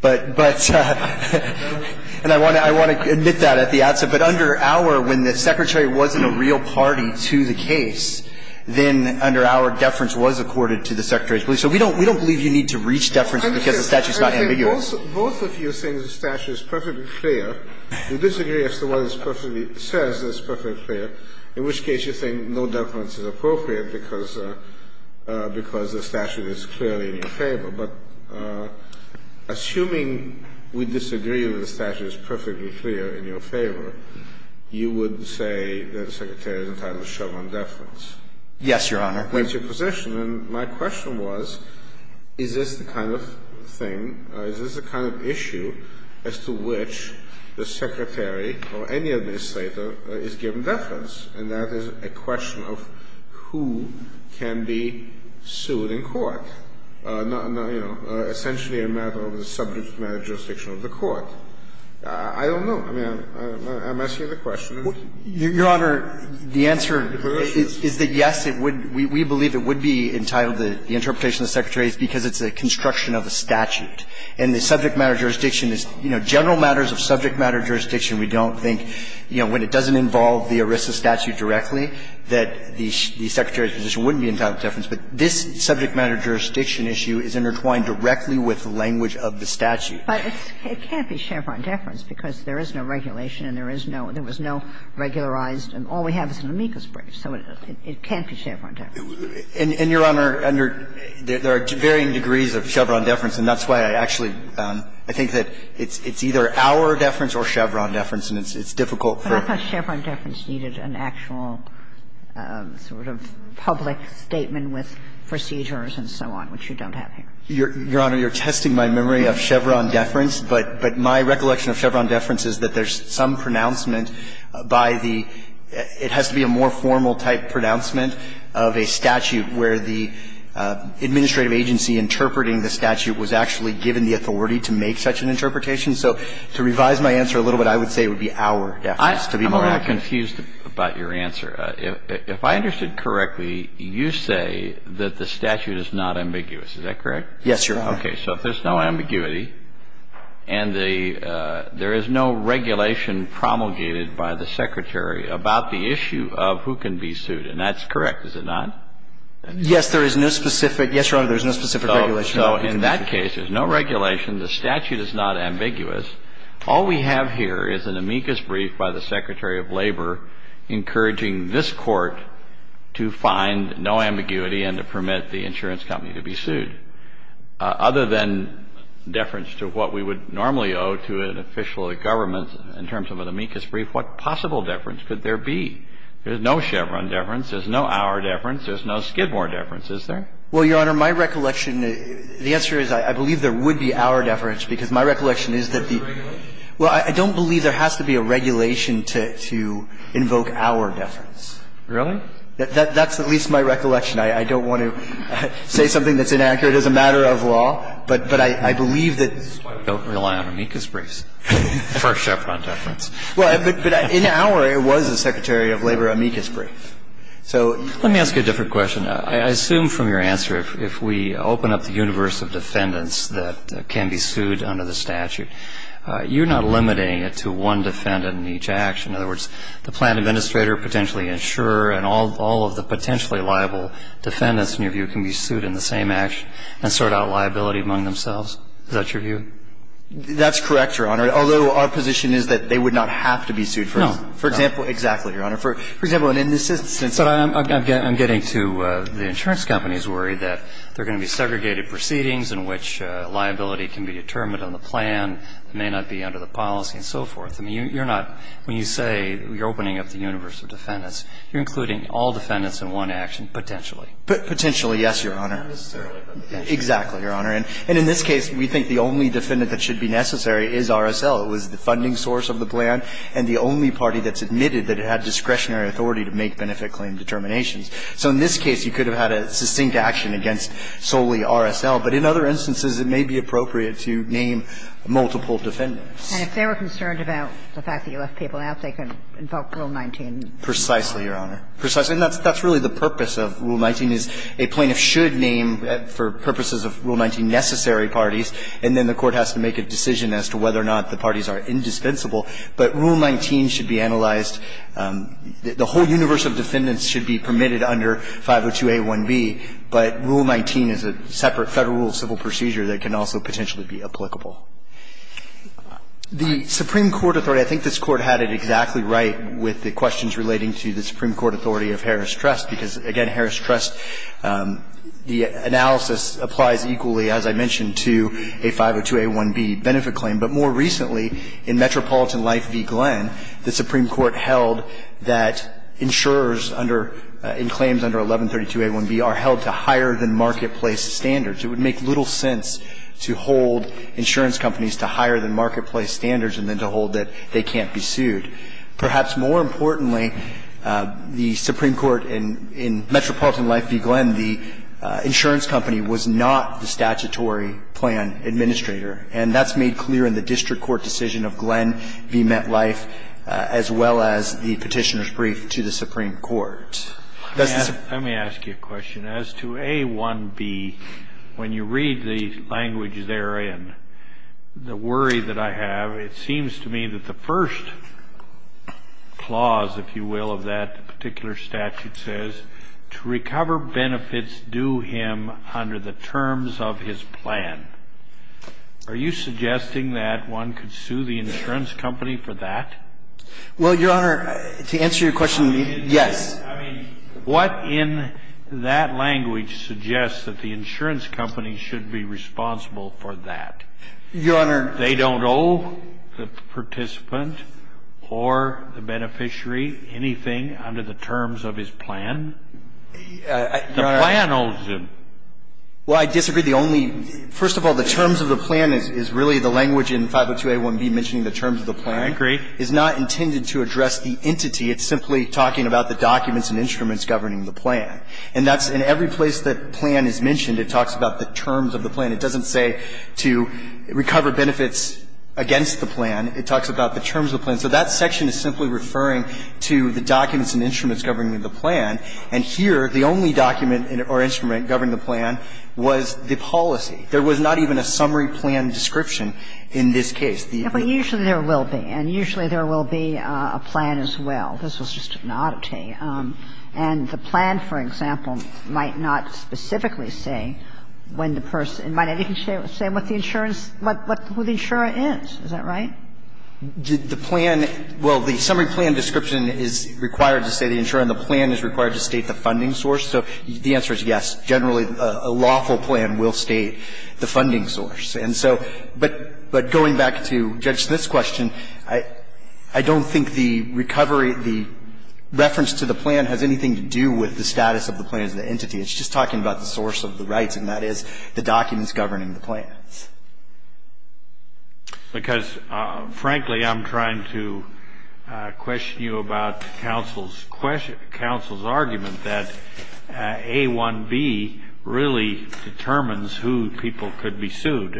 but – but – and I want to – I want to admit that at the outset. But under Auer, when the Secretary wasn't a real party to the case, then under Auer, deference was accorded to the Secretary's belief. So we don't – we don't believe you need to reach deference because the statute is not ambiguous. I'm just saying both – both of you think the statute is perfectly clear. You disagree as to what is perfectly – says is perfectly clear, in which case you think no deference is appropriate because – because the statute is clearly in your favor. But assuming we disagree that the statute is perfectly clear in your favor, you would say that the Secretary is entitled to show non-deference? Yes, Your Honor. That's your position. And my question was, is this the kind of thing – is this the kind of issue as to which the Secretary or any administrator is given deference? And that is a question of who can be sued in court. And I don't think that's, you know, essentially a matter of the subject-matter jurisdiction of the court. I don't know. I mean, I'm asking the question. Your Honor, the answer is that, yes, it would – we believe it would be entitled to the interpretation of the Secretary because it's a construction of a statute. And the subject-matter jurisdiction is – you know, general matters of subject-matter jurisdiction, we don't think, you know, when it doesn't involve the ERISA statute directly, that the Secretary's position wouldn't be entitled to deference. But this subject-matter jurisdiction issue is intertwined directly with the language of the statute. But it can't be Chevron deference because there is no regulation and there is no – there was no regularized – and all we have is an amicus brief. So it can't be Chevron deference. And, Your Honor, under – there are varying degrees of Chevron deference, and that's why I actually – I think that it's either our deference or Chevron deference, and it's difficult for – Kagan, I thought Chevron deference needed an actual sort of public statement with procedures and so on, which you don't have here. Your Honor, you're testing my memory of Chevron deference, but my recollection of Chevron deference is that there's some pronouncement by the – it has to be a more formal-type pronouncement of a statute where the administrative agency interpreting the statute was actually given the authority to make such an interpretation. So to revise my answer a little bit, I would say it would be our deference, to be more accurate. I'm a little confused about your answer. If I understood correctly, you say that the statute is not ambiguous. Is that correct? Yes, Your Honor. Okay. So if there's no ambiguity and the – there is no regulation promulgated by the Secretary about the issue of who can be sued, and that's correct, is it not? Yes, there is no specific – yes, Your Honor, there is no specific regulation. So in that case, there's no regulation. The statute is not ambiguous. All we have here is an amicus brief by the Secretary of Labor encouraging this Court to find no ambiguity and to permit the insurance company to be sued. Other than deference to what we would normally owe to an official of the government in terms of an amicus brief, what possible deference could there be? There's no Chevron deference. There's no our deference. There's no Skidmore deference, is there? Well, Your Honor, my recollection – the answer is I believe there would be our deference because my recollection is that the – Is there a regulation? Well, I don't believe there has to be a regulation to invoke our deference. Really? That's at least my recollection. I don't want to say something that's inaccurate as a matter of law, but I believe that – That's why we don't rely on amicus briefs for Chevron deference. Well, but in our, it was the Secretary of Labor amicus brief. So you can't – Let me ask you a different question. I assume from your answer, if we open up the universe of defendants that can be sued under the statute, you're not limiting it to one defendant in each action. In other words, the plan administrator, potentially insurer, and all of the potentially liable defendants, in your view, can be sued in the same action and sort out liability among themselves. Is that your view? That's correct, Your Honor, although our position is that they would not have to be sued for this. No. For example – exactly, Your Honor. For example, in this instance – I'm getting to the insurance company's worry that there are going to be segregated proceedings in which liability can be determined on the plan, may not be under the policy and so forth. I mean, you're not – when you say you're opening up the universe of defendants, you're including all defendants in one action, potentially. Potentially, yes, Your Honor. Exactly, Your Honor. And in this case, we think the only defendant that should be necessary is RSL. It was the funding source of the plan and the only party that's admitted that it had discretionary authority to make benefit claim determinations. So in this case, you could have had a succinct action against solely RSL, but in other instances, it may be appropriate to name multiple defendants. And if they were concerned about the fact that you left people out, they could invoke Rule 19. Precisely, Your Honor. Precisely. And that's really the purpose of Rule 19, is a plaintiff should name, for purposes of Rule 19, necessary parties, and then the court has to make a decision as to whether or not the parties are indispensable. But Rule 19 should be analyzed. The whole universe of defendants should be permitted under 502a1b, but Rule 19 is a separate Federal Rule of Civil Procedure that can also potentially be applicable. The Supreme Court authority, I think this Court had it exactly right with the questions relating to the Supreme Court authority of Harris Trust, because, again, Harris Trust, the analysis applies equally, as I mentioned, to a 502a1b benefit claim. But more recently, in Metropolitan Life v. Glenn, the Supreme Court held that insurers under – in claims under 1132a1b are held to higher-than-marketplace standards. It would make little sense to hold insurance companies to higher-than-marketplace standards and then to hold that they can't be sued. Perhaps more importantly, the Supreme Court in Metropolitan Life v. Glenn, the insurance company was not the statutory plan administrator. And that's made clear in the district court decision of Glenn v. MetLife, as well as the Petitioner's Brief to the Supreme Court. Does the Supreme Court have any other questions? Kennedy, I'm going to ask you a question. As to a1b, when you read the language therein, the worry that I have, it seems to me that the first clause, if you will, of that particular statute says, to recover benefits due him under the terms of his plan. Are you suggesting that one could sue the insurance company for that? Well, Your Honor, to answer your question, yes. I mean, what in that language suggests that the insurance company should be responsible for that? Your Honor. They don't owe the participant or the beneficiary anything under the terms of his plan? The plan owes them. Well, I disagree. The only – first of all, the terms of the plan is really the language in 502a1b mentioning the terms of the plan. I agree. It's not intended to address the entity. It's simply talking about the documents and instruments governing the plan. And that's – in every place that plan is mentioned, it talks about the terms of the plan. It doesn't say to recover benefits against the plan. It talks about the terms of the plan. So that section is simply referring to the documents and instruments governing the plan. And here, the only document or instrument governing the plan was the policy. There was not even a summary plan description in this case. But usually there will be, and usually there will be a plan as well. This was just an oddity. And the plan, for example, might not specifically say when the person – it might not even say what the insurance – who the insurer is. Is that right? The plan – well, the summary plan description is required to say the insurer and the plan is required to state the funding source. So the answer is yes. Generally, a lawful plan will state the funding source. And so – but going back to Judge Smith's question, I don't think the recovery – the reference to the plan has anything to do with the status of the plan as an entity. It's just talking about the source of the rights, and that is the documents governing the plan. Because, frankly, I'm trying to question you about counsel's argument that A1B really determines who people could be sued.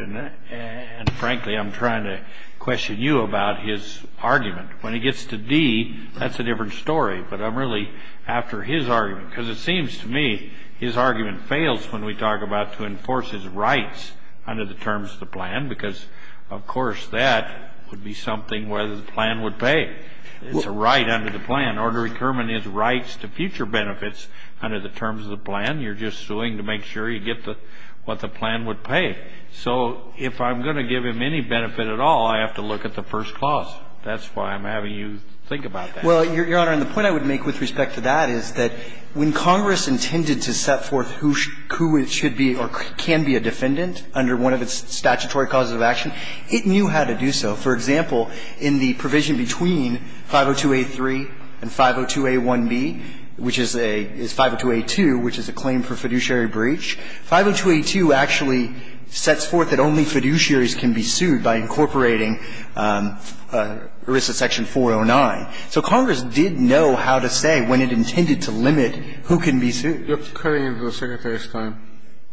And frankly, I'm trying to question you about his argument. When he gets to D, that's a different story. But I'm really after his argument, because it seems to me his argument fails when we talk about to enforce his rights under the terms of the plan, because, of course, that would be something where the plan would pay. It's a right under the plan. In order to determine his rights to future benefits under the terms of the plan, you're just suing to make sure you get the – what the plan would pay. So if I'm going to give him any benefit at all, I have to look at the first clause. That's why I'm having you think about that. Well, Your Honor, and the point I would make with respect to that is that when Congress intended to set forth who it should be or can be a defendant under one of its statutory causes of action, it knew how to do so. For example, in the provision between 502A3 and 502A1B, which is a – is 502A2, which is a claim for fiduciary breach, 502A2 actually sets forth that only fiduciaries can be sued by incorporating ERISA section 409. So Congress did know how to say when it intended to limit who can be sued. You're cutting into the Secretary's time.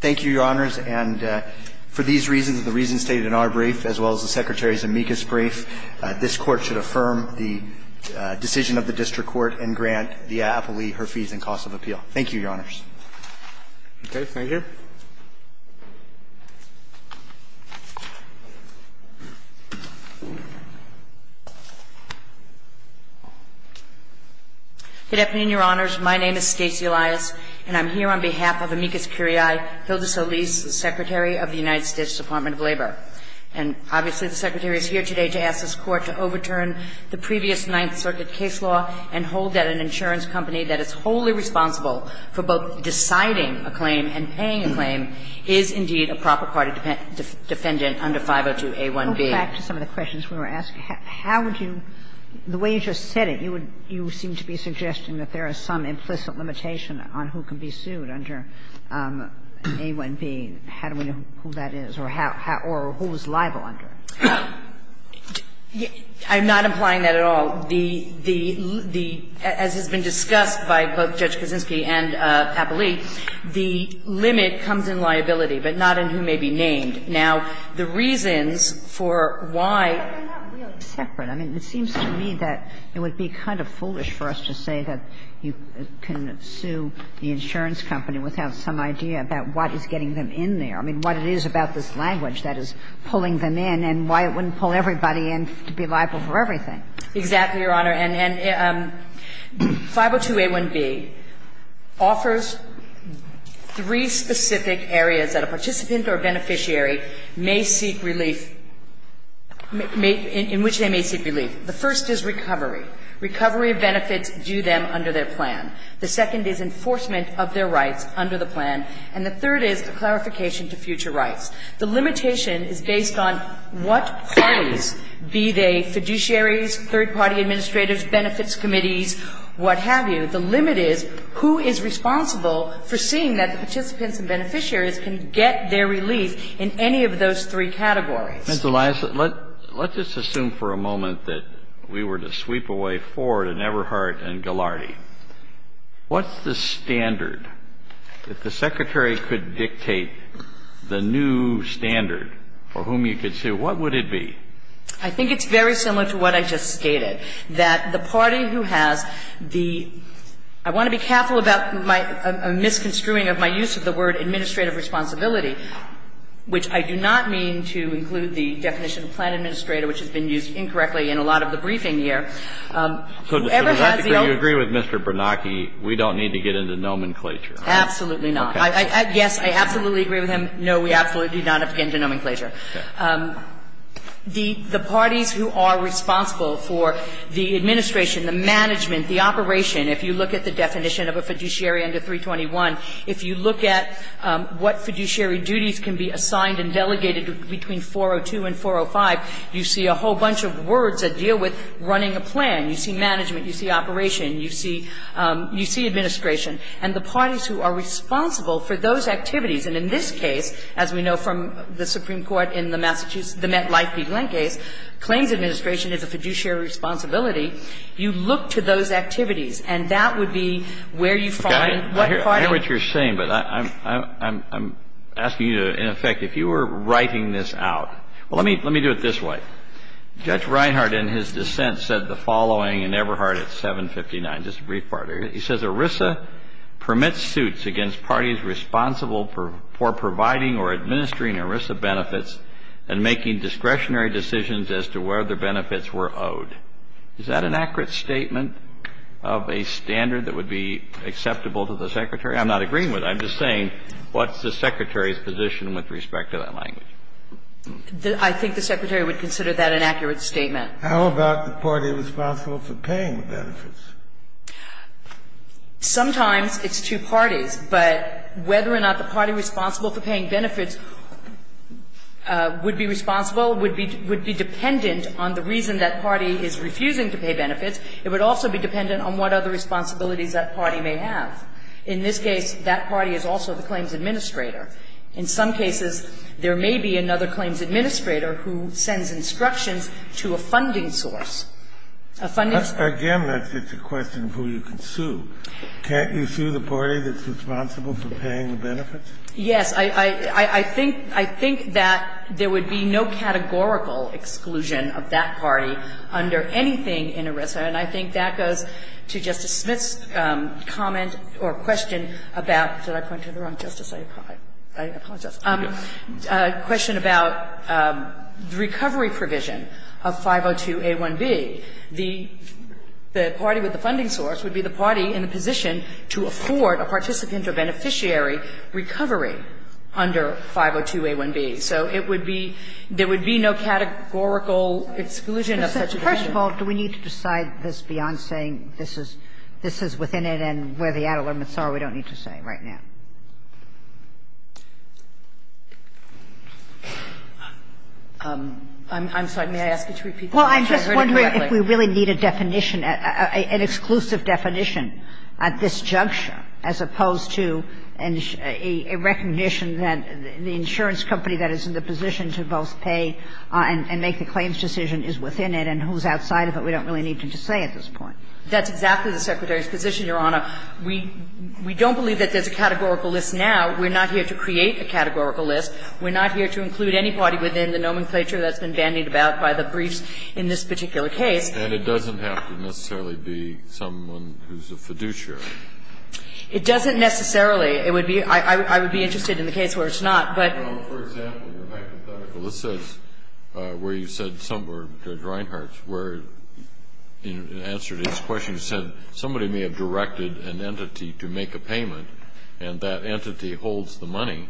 Thank you, Your Honors. And for these reasons, the reasons stated in our brief as well as the Secretary's amicus brief, this Court should affirm the decision of the district court and grant the appleee her fees and cost of appeal. Thank you, Your Honors. Okay. Thank you. Good afternoon, Your Honors. My name is Stacey Elias, and I'm here on behalf of amicus curiae Hilda Solis, the Secretary of the United States Department of Labor. And obviously, the Secretary is here today to ask this Court to overturn the previous Ninth Circuit case law and hold that an insurance company that is wholly responsible for both deciding a claim and paying a claim is indeed a proper party defendant under 502A1B. Go back to some of the questions we were asking. How would you – the way you just said it, you would – you seem to be suggesting that there is some implicit limitation on who can be sued under A1B. How do we know who that is or how – or who is liable under it? I'm not implying that at all. The – the – as has been discussed by both Judge Kaczynski and Pappalee, the limit comes in liability, but not in who may be named. Now, the reasons for why – But they're not really separate. I mean, it seems to me that it would be kind of foolish for us to say that you can sue the insurance company without some idea about what is getting them in there. I mean, what it is about this language that is pulling them in and why it wouldn't pull everybody in to be liable for everything. Exactly, Your Honor. And – and 502A1B offers three specific areas that a participant or beneficiary may seek relief – may – in which they may seek relief. The first is recovery. Recovery of benefits due them under their plan. The second is enforcement of their rights under the plan. And the third is a clarification to future rights. The limitation is based on what parties, be they fiduciaries, third-party administrators, benefits committees, what have you. The limit is who is responsible for seeing that the participants and beneficiaries can get their relief in any of those three categories. Ms. Elias, let – let's just assume for a moment that we were to sweep away Ford and Everhart and Ghilardi. What's the standard, if the Secretary could dictate the new standard for whom you could sue, what would it be? I think it's very similar to what I just stated, that the party who has the – I want to be careful about my – a misconstruing of my use of the word administrative responsibility, which I do not mean to include the definition of plan administrator, which has been used incorrectly in a lot of the briefing here. Whoever has the – So to that degree, you agree with Mr. Bernanke, we don't need to get into nomenclature? Absolutely not. Yes, I absolutely agree with him. No, we absolutely do not have to get into nomenclature. The parties who are responsible for the administration, the management, the operation, if you look at the definition of a fiduciary under 321, if you look at what fiduciary duties can be assigned and delegated between 402 and 405, you see a whole bunch of words that deal with running a plan. You see management. You see operation. You see administration. And the parties who are responsible for those activities, and in this case, as we know from the Supreme Court in the Massachusetts, the Met-Lifeby-Glenn case, claims administration is a fiduciary responsibility. You look to those activities, and that would be where you find what party – I hear what you're saying, but I'm asking you to, in effect, if you were writing this out – well, let me do it this way. Judge Reinhardt, in his dissent, said the following in Eberhardt at 759. Just a brief part of it. He says ERISA permits suits against parties responsible for providing or administering ERISA benefits and making discretionary decisions as to whether benefits were owed. Is that an accurate statement of a standard that would be acceptable to the Secretary? I'm not agreeing with it. I'm just saying, what's the Secretary's position with respect to that language? I think the Secretary would consider that an accurate statement. How about the party responsible for paying the benefits? Sometimes it's two parties, but whether or not the party responsible for paying benefits would be responsible would be dependent on the reason that party is refusing to pay benefits. It would also be dependent on what other responsibilities that party may have. In this case, that party is also the claims administrator. In some cases, there may be another claims administrator who sends instructions to a funding source. A funding source. Again, that's just a question of who you can sue. Can't you sue the party that's responsible for paying the benefits? Yes. I think that there would be no categorical exclusion of that party under anything in ERISA, and I think that goes to Justice Smith's comment or question about – did I apologize? A question about the recovery provision of 502a1b. The party with the funding source would be the party in the position to afford a participant or beneficiary recovery under 502a1b. So it would be – there would be no categorical exclusion of such a provision. First of all, do we need to decide this beyond saying this is within it and where the ad litem it's all we don't need to say right now? I'm sorry. May I ask you to repeat? Well, I'm just wondering if we really need a definition, an exclusive definition at this juncture as opposed to a recognition that the insurance company that is in the position to both pay and make the claims decision is within it and who's outside of it we don't really need to say at this point. That's exactly the Secretary's position, Your Honor. We don't believe that there's a categorical list now. We're not here to create a categorical list. We're not here to include anybody within the nomenclature that's been bandied about by the briefs in this particular case. And it doesn't have to necessarily be someone who's a fiduciary. It doesn't necessarily. It would be – I would be interested in the case where it's not, but – Well, for example, your back to Dr. Felicis, where you said – or Dr. Reinhart's where, in answer to his question, you said somebody may have directed an entity to make a payment, and that entity holds the money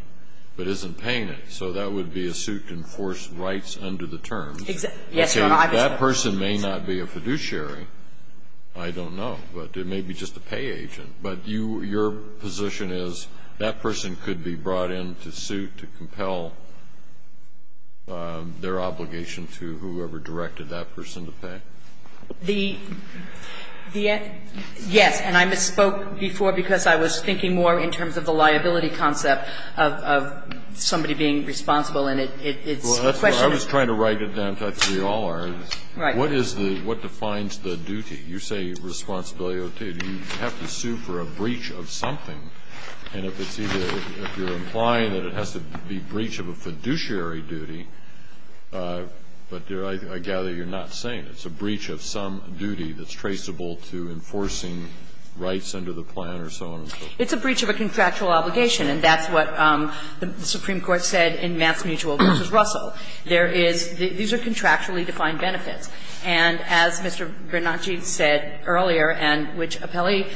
but isn't paying it. So that would be a suit to enforce rights under the terms. Exactly. Yes, Your Honor, I was going to say the same thing. Okay. If that person may not be a fiduciary, I don't know. But it may be just a pay agent. But you – your position is that person could be brought into suit to compel their obligation to whoever directed that person to pay? The – yes. And I misspoke before because I was thinking more in terms of the liability concept of somebody being responsible, and it's the question of – Well, that's what I was trying to write it down, in fact, to be all-hours. Right. What is the – what defines the duty? You say responsibility. You have to sue for a breach of something. And if it's either – if you're implying that it has to be breach of a fiduciary duty, but I gather you're not saying it's a breach of some duty that's traceable to enforcing rights under the plan or so on and so forth. It's a breach of a contractual obligation, and that's what the Supreme Court said in Mance Mutual v. Russell. There is – these are contractually defined benefits. And as Mr. Bernanke said earlier and which Apelli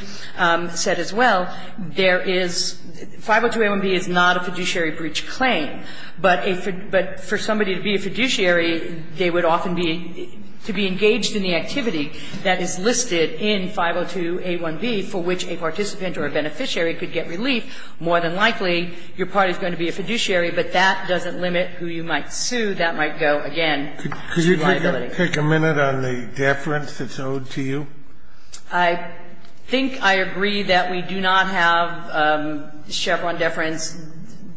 said as well, there is – 502-A1B is not a fiduciary breach claim. But a – but for somebody to be a fiduciary, they would often be – to be engaged in the activity that is listed in 502-A1B for which a participant or a beneficiary could get relief, more than likely your party is going to be a fiduciary, but that doesn't limit who you might sue. That might go, again, to liability. Could you take a minute on the deference that's owed to you? I think I agree that we do not have Chevron deference.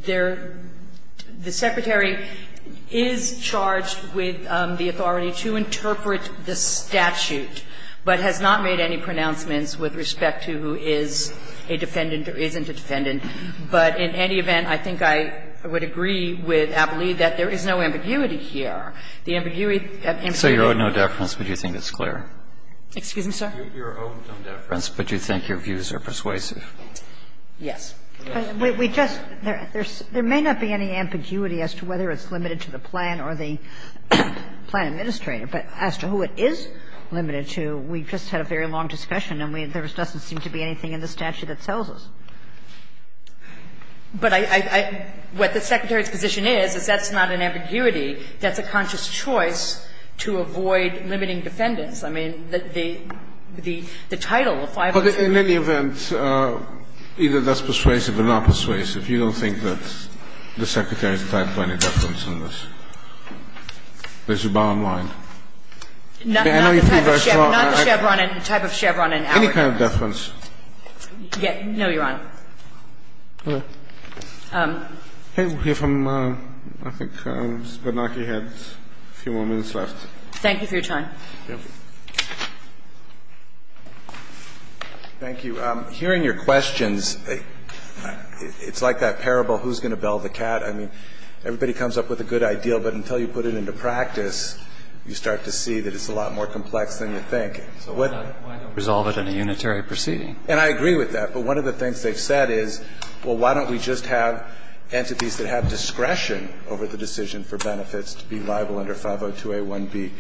There – the Secretary is charged with the authority to interpret the statute, but has not made any pronouncements with respect to who is a defendant or isn't a defendant. But in any event, I think I would agree with Apelli that there is no ambiguity here. The ambiguity of ambiguity of deference would be clear. Excuse me, sir? Your own deference, but you think your views are persuasive? Yes. We just – there may not be any ambiguity as to whether it's limited to the plan or the plan administrator, but as to who it is limited to, we just had a very long discussion, and there doesn't seem to be anything in the statute that tells us. But I – what the Secretary's position is, is that's not an ambiguity. That's a conscious choice to avoid limiting defendants. I mean, the title of five minutes – But in any event, either that's persuasive or not persuasive. You don't think that the Secretary is tied to any deference in this? There's a bound line. I know you feel very strongly that I – Not the Chevron – not the Chevron and type of Chevron in our case. Any kind of deference. Yes. No, Your Honor. All right. I think we'll hear from – I think Ms. Bernanke had a few more minutes left. Thank you for your time. Thank you. Hearing your questions, it's like that parable, who's going to bell the cat? I mean, everybody comes up with a good idea, but until you put it into practice, you start to see that it's a lot more complex than you think. So why not resolve it in a unitary proceeding? And I agree with that. But one of the things they've said is, well, why don't we just have entities that have discretion over the decision for benefits to be liable under 502a1b?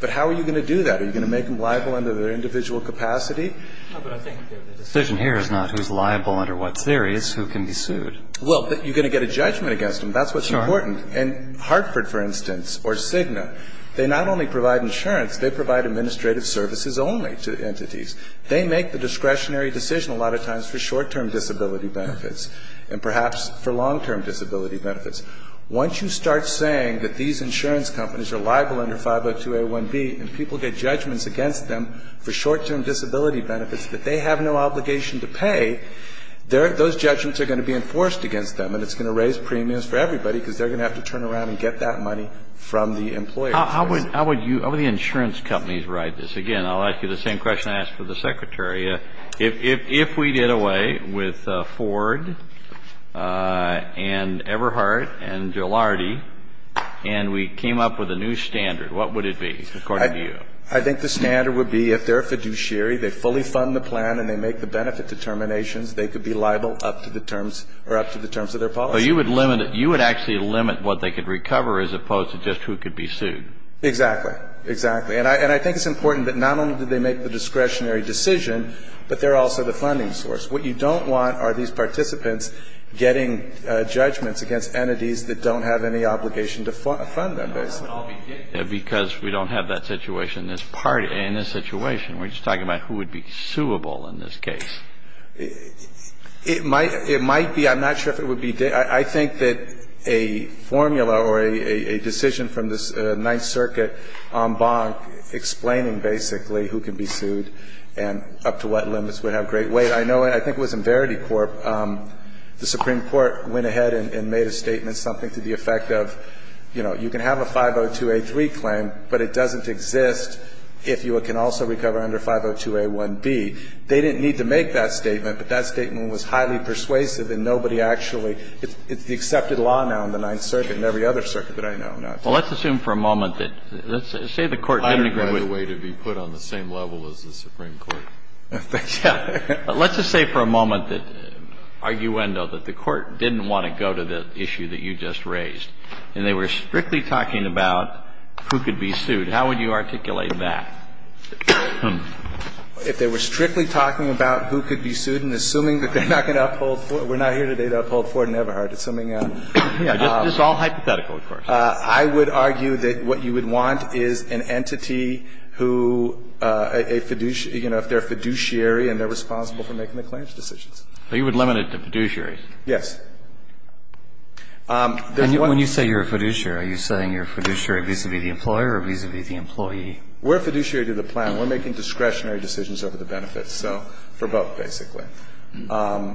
But how are you going to do that? Are you going to make them liable under their individual capacity? No, but I think the decision here is not who's liable under what theory. It's who can be sued. Well, but you're going to get a judgment against them. That's what's important. And Hartford, for instance, or Cigna, they not only provide insurance, they provide administrative services only to entities. They make the discretionary decision a lot of times for short-term disability benefits and perhaps for long-term disability benefits. Once you start saying that these insurance companies are liable under 502a1b and people get judgments against them for short-term disability benefits that they have no obligation to pay, those judgments are going to be enforced against them. And it's going to raise premiums for everybody, because they're going to have to turn around and get that money from the employer. How would the insurance companies write this? Again, I'll ask you the same question I asked for the Secretary. If we did away with Ford and Everhart and Gillardy and we came up with a new standard, what would it be, according to you? I think the standard would be if they're a fiduciary, they fully fund the plan and they make the benefit determinations, they could be liable up to the terms or up to the terms of their policy. But you would limit it. You would actually limit what they could recover as opposed to just who could be sued. Exactly. Exactly. And I think it's important that not only do they make the discretionary decision, but they're also the funding source. What you don't want are these participants getting judgments against entities that don't have any obligation to fund them, basically. Because we don't have that situation in this situation. We're just talking about who would be suable in this case. It might be. I'm not sure if it would be. I think that a formula or a decision from the Ninth Circuit en banc explaining basically who could be sued and up to what limits would have great weight. I know, I think it was in Verity Corp, the Supreme Court went ahead and made a statement, something to the effect of, you know, you can have a 502A3 claim, but it doesn't exist if you can also recover under 502A1B. They didn't need to make that statement, but that statement was highly persuasive and nobody actually, it's the accepted law now in the Ninth Circuit and every other circuit that I know now. Well, let's assume for a moment that, let's say the Court didn't agree with. I don't know the way to be put on the same level as the Supreme Court. Let's just say for a moment that, arguendo, that the Court didn't want to go to the issue that you just raised, and they were strictly talking about who could be sued. How would you articulate that? If they were strictly talking about who could be sued and assuming that they're not going to uphold, we're not here today to uphold Ford and Everhart, it's something else. Yeah, it's all hypothetical, of course. I would argue that what you would want is an entity who, a fiduciary, you know, if they're a fiduciary and they're responsible for making the claims decisions. So you would limit it to fiduciary? Yes. And when you say you're a fiduciary, are you saying you're a fiduciary vis-a-vis the employer or vis-a-vis the employee? We're a fiduciary to the plan. We're making discretionary decisions over the benefits, so for both, basically. So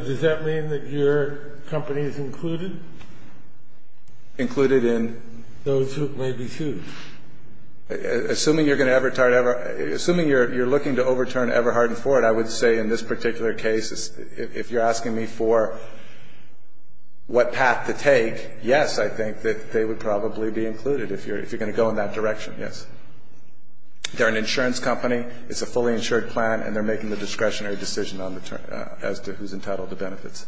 does that mean that your company is included? Included in? Those who may be sued. Assuming you're going to ever tire Everhart – assuming you're looking to overturn Everhart and Ford, I would say in this particular case, if you're asking me for what path to take, yes, I think that they would probably be included if you're going to go in that direction, yes. They're an insurance company. It's a fully insured plan, and they're making the discretionary decision on the terms – as to who's entitled to benefits.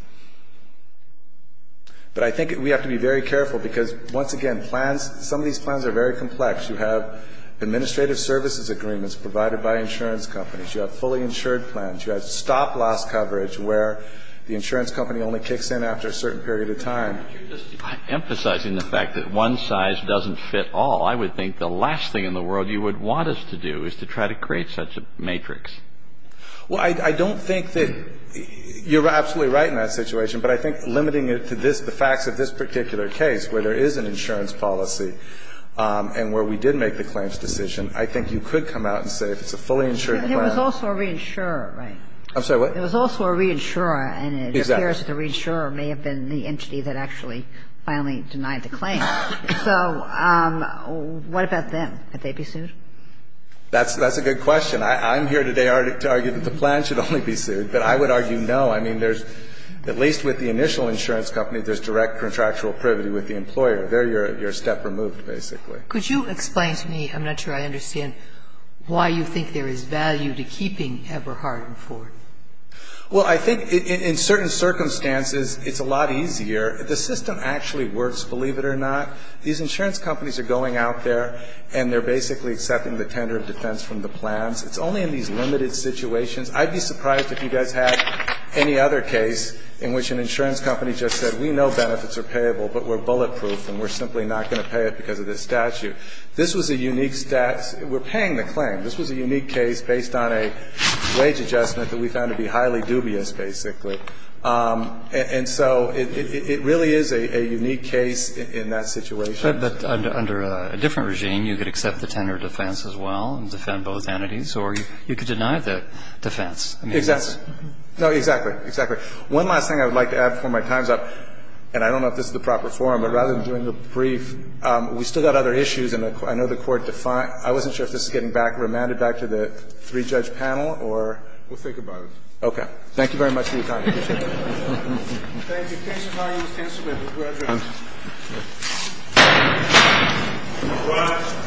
But I think we have to be very careful, because, once again, plans – some of these plans are very complex. You have administrative services agreements provided by insurance companies. You have fully insured plans. You have stop-loss coverage where the insurance company only kicks in after a certain period of time. But you're just emphasizing the fact that one size doesn't fit all. I would think the last thing in the world you would want us to do is to try to create such a matrix. Well, I don't think that – you're absolutely right in that situation, but I think limiting it to this – the facts of this particular case, where there is an insurance policy and where we did make the claims decision, I think you could come out and say if it's a fully insured plan – But it was also a reinsurer, right? I'm sorry, what? It was also a reinsurer, and it appears that the reinsurer may have been the entity that actually finally denied the claim. So what about them? Could they be sued? That's a good question. I'm here today to argue that the plan should only be sued, but I would argue no. I mean, there's – at least with the initial insurance company, there's direct contractual privity with the employer. There you're a step removed, basically. Could you explain to me – I'm not sure I understand – why you think there is value to keeping Eberhard and Ford? Well, I think in certain circumstances it's a lot easier. The system actually works, believe it or not. These insurance companies are going out there and they're basically accepting the tender of defense from the plans. It's only in these limited situations. I'd be surprised if you guys had any other case in which an insurance company just said, we know benefits are payable, but we're bulletproof and we're simply not going to pay it because of this statute. This was a unique – we're paying the claim. This was a unique case based on a wage adjustment that we found to be highly dubious, basically. And so it really is a unique case in that situation. But under a different regime, you could accept the tender of defense as well and defend both entities, or you could deny the defense. Exactly. No, exactly. Exactly. One last thing I would like to add before my time's up, and I don't know if this is the proper forum, but rather than doing a brief, we still got other issues and I know the Court defined – I wasn't sure if this is getting back – remanded back to the three-judge panel or – We'll think about it. Okay. Thank you very much for your time. Appreciate it. Thank you. Thank you. Thank you. Thank you. Congratulations. Thank you. Congratulations. Thank you. Thank you.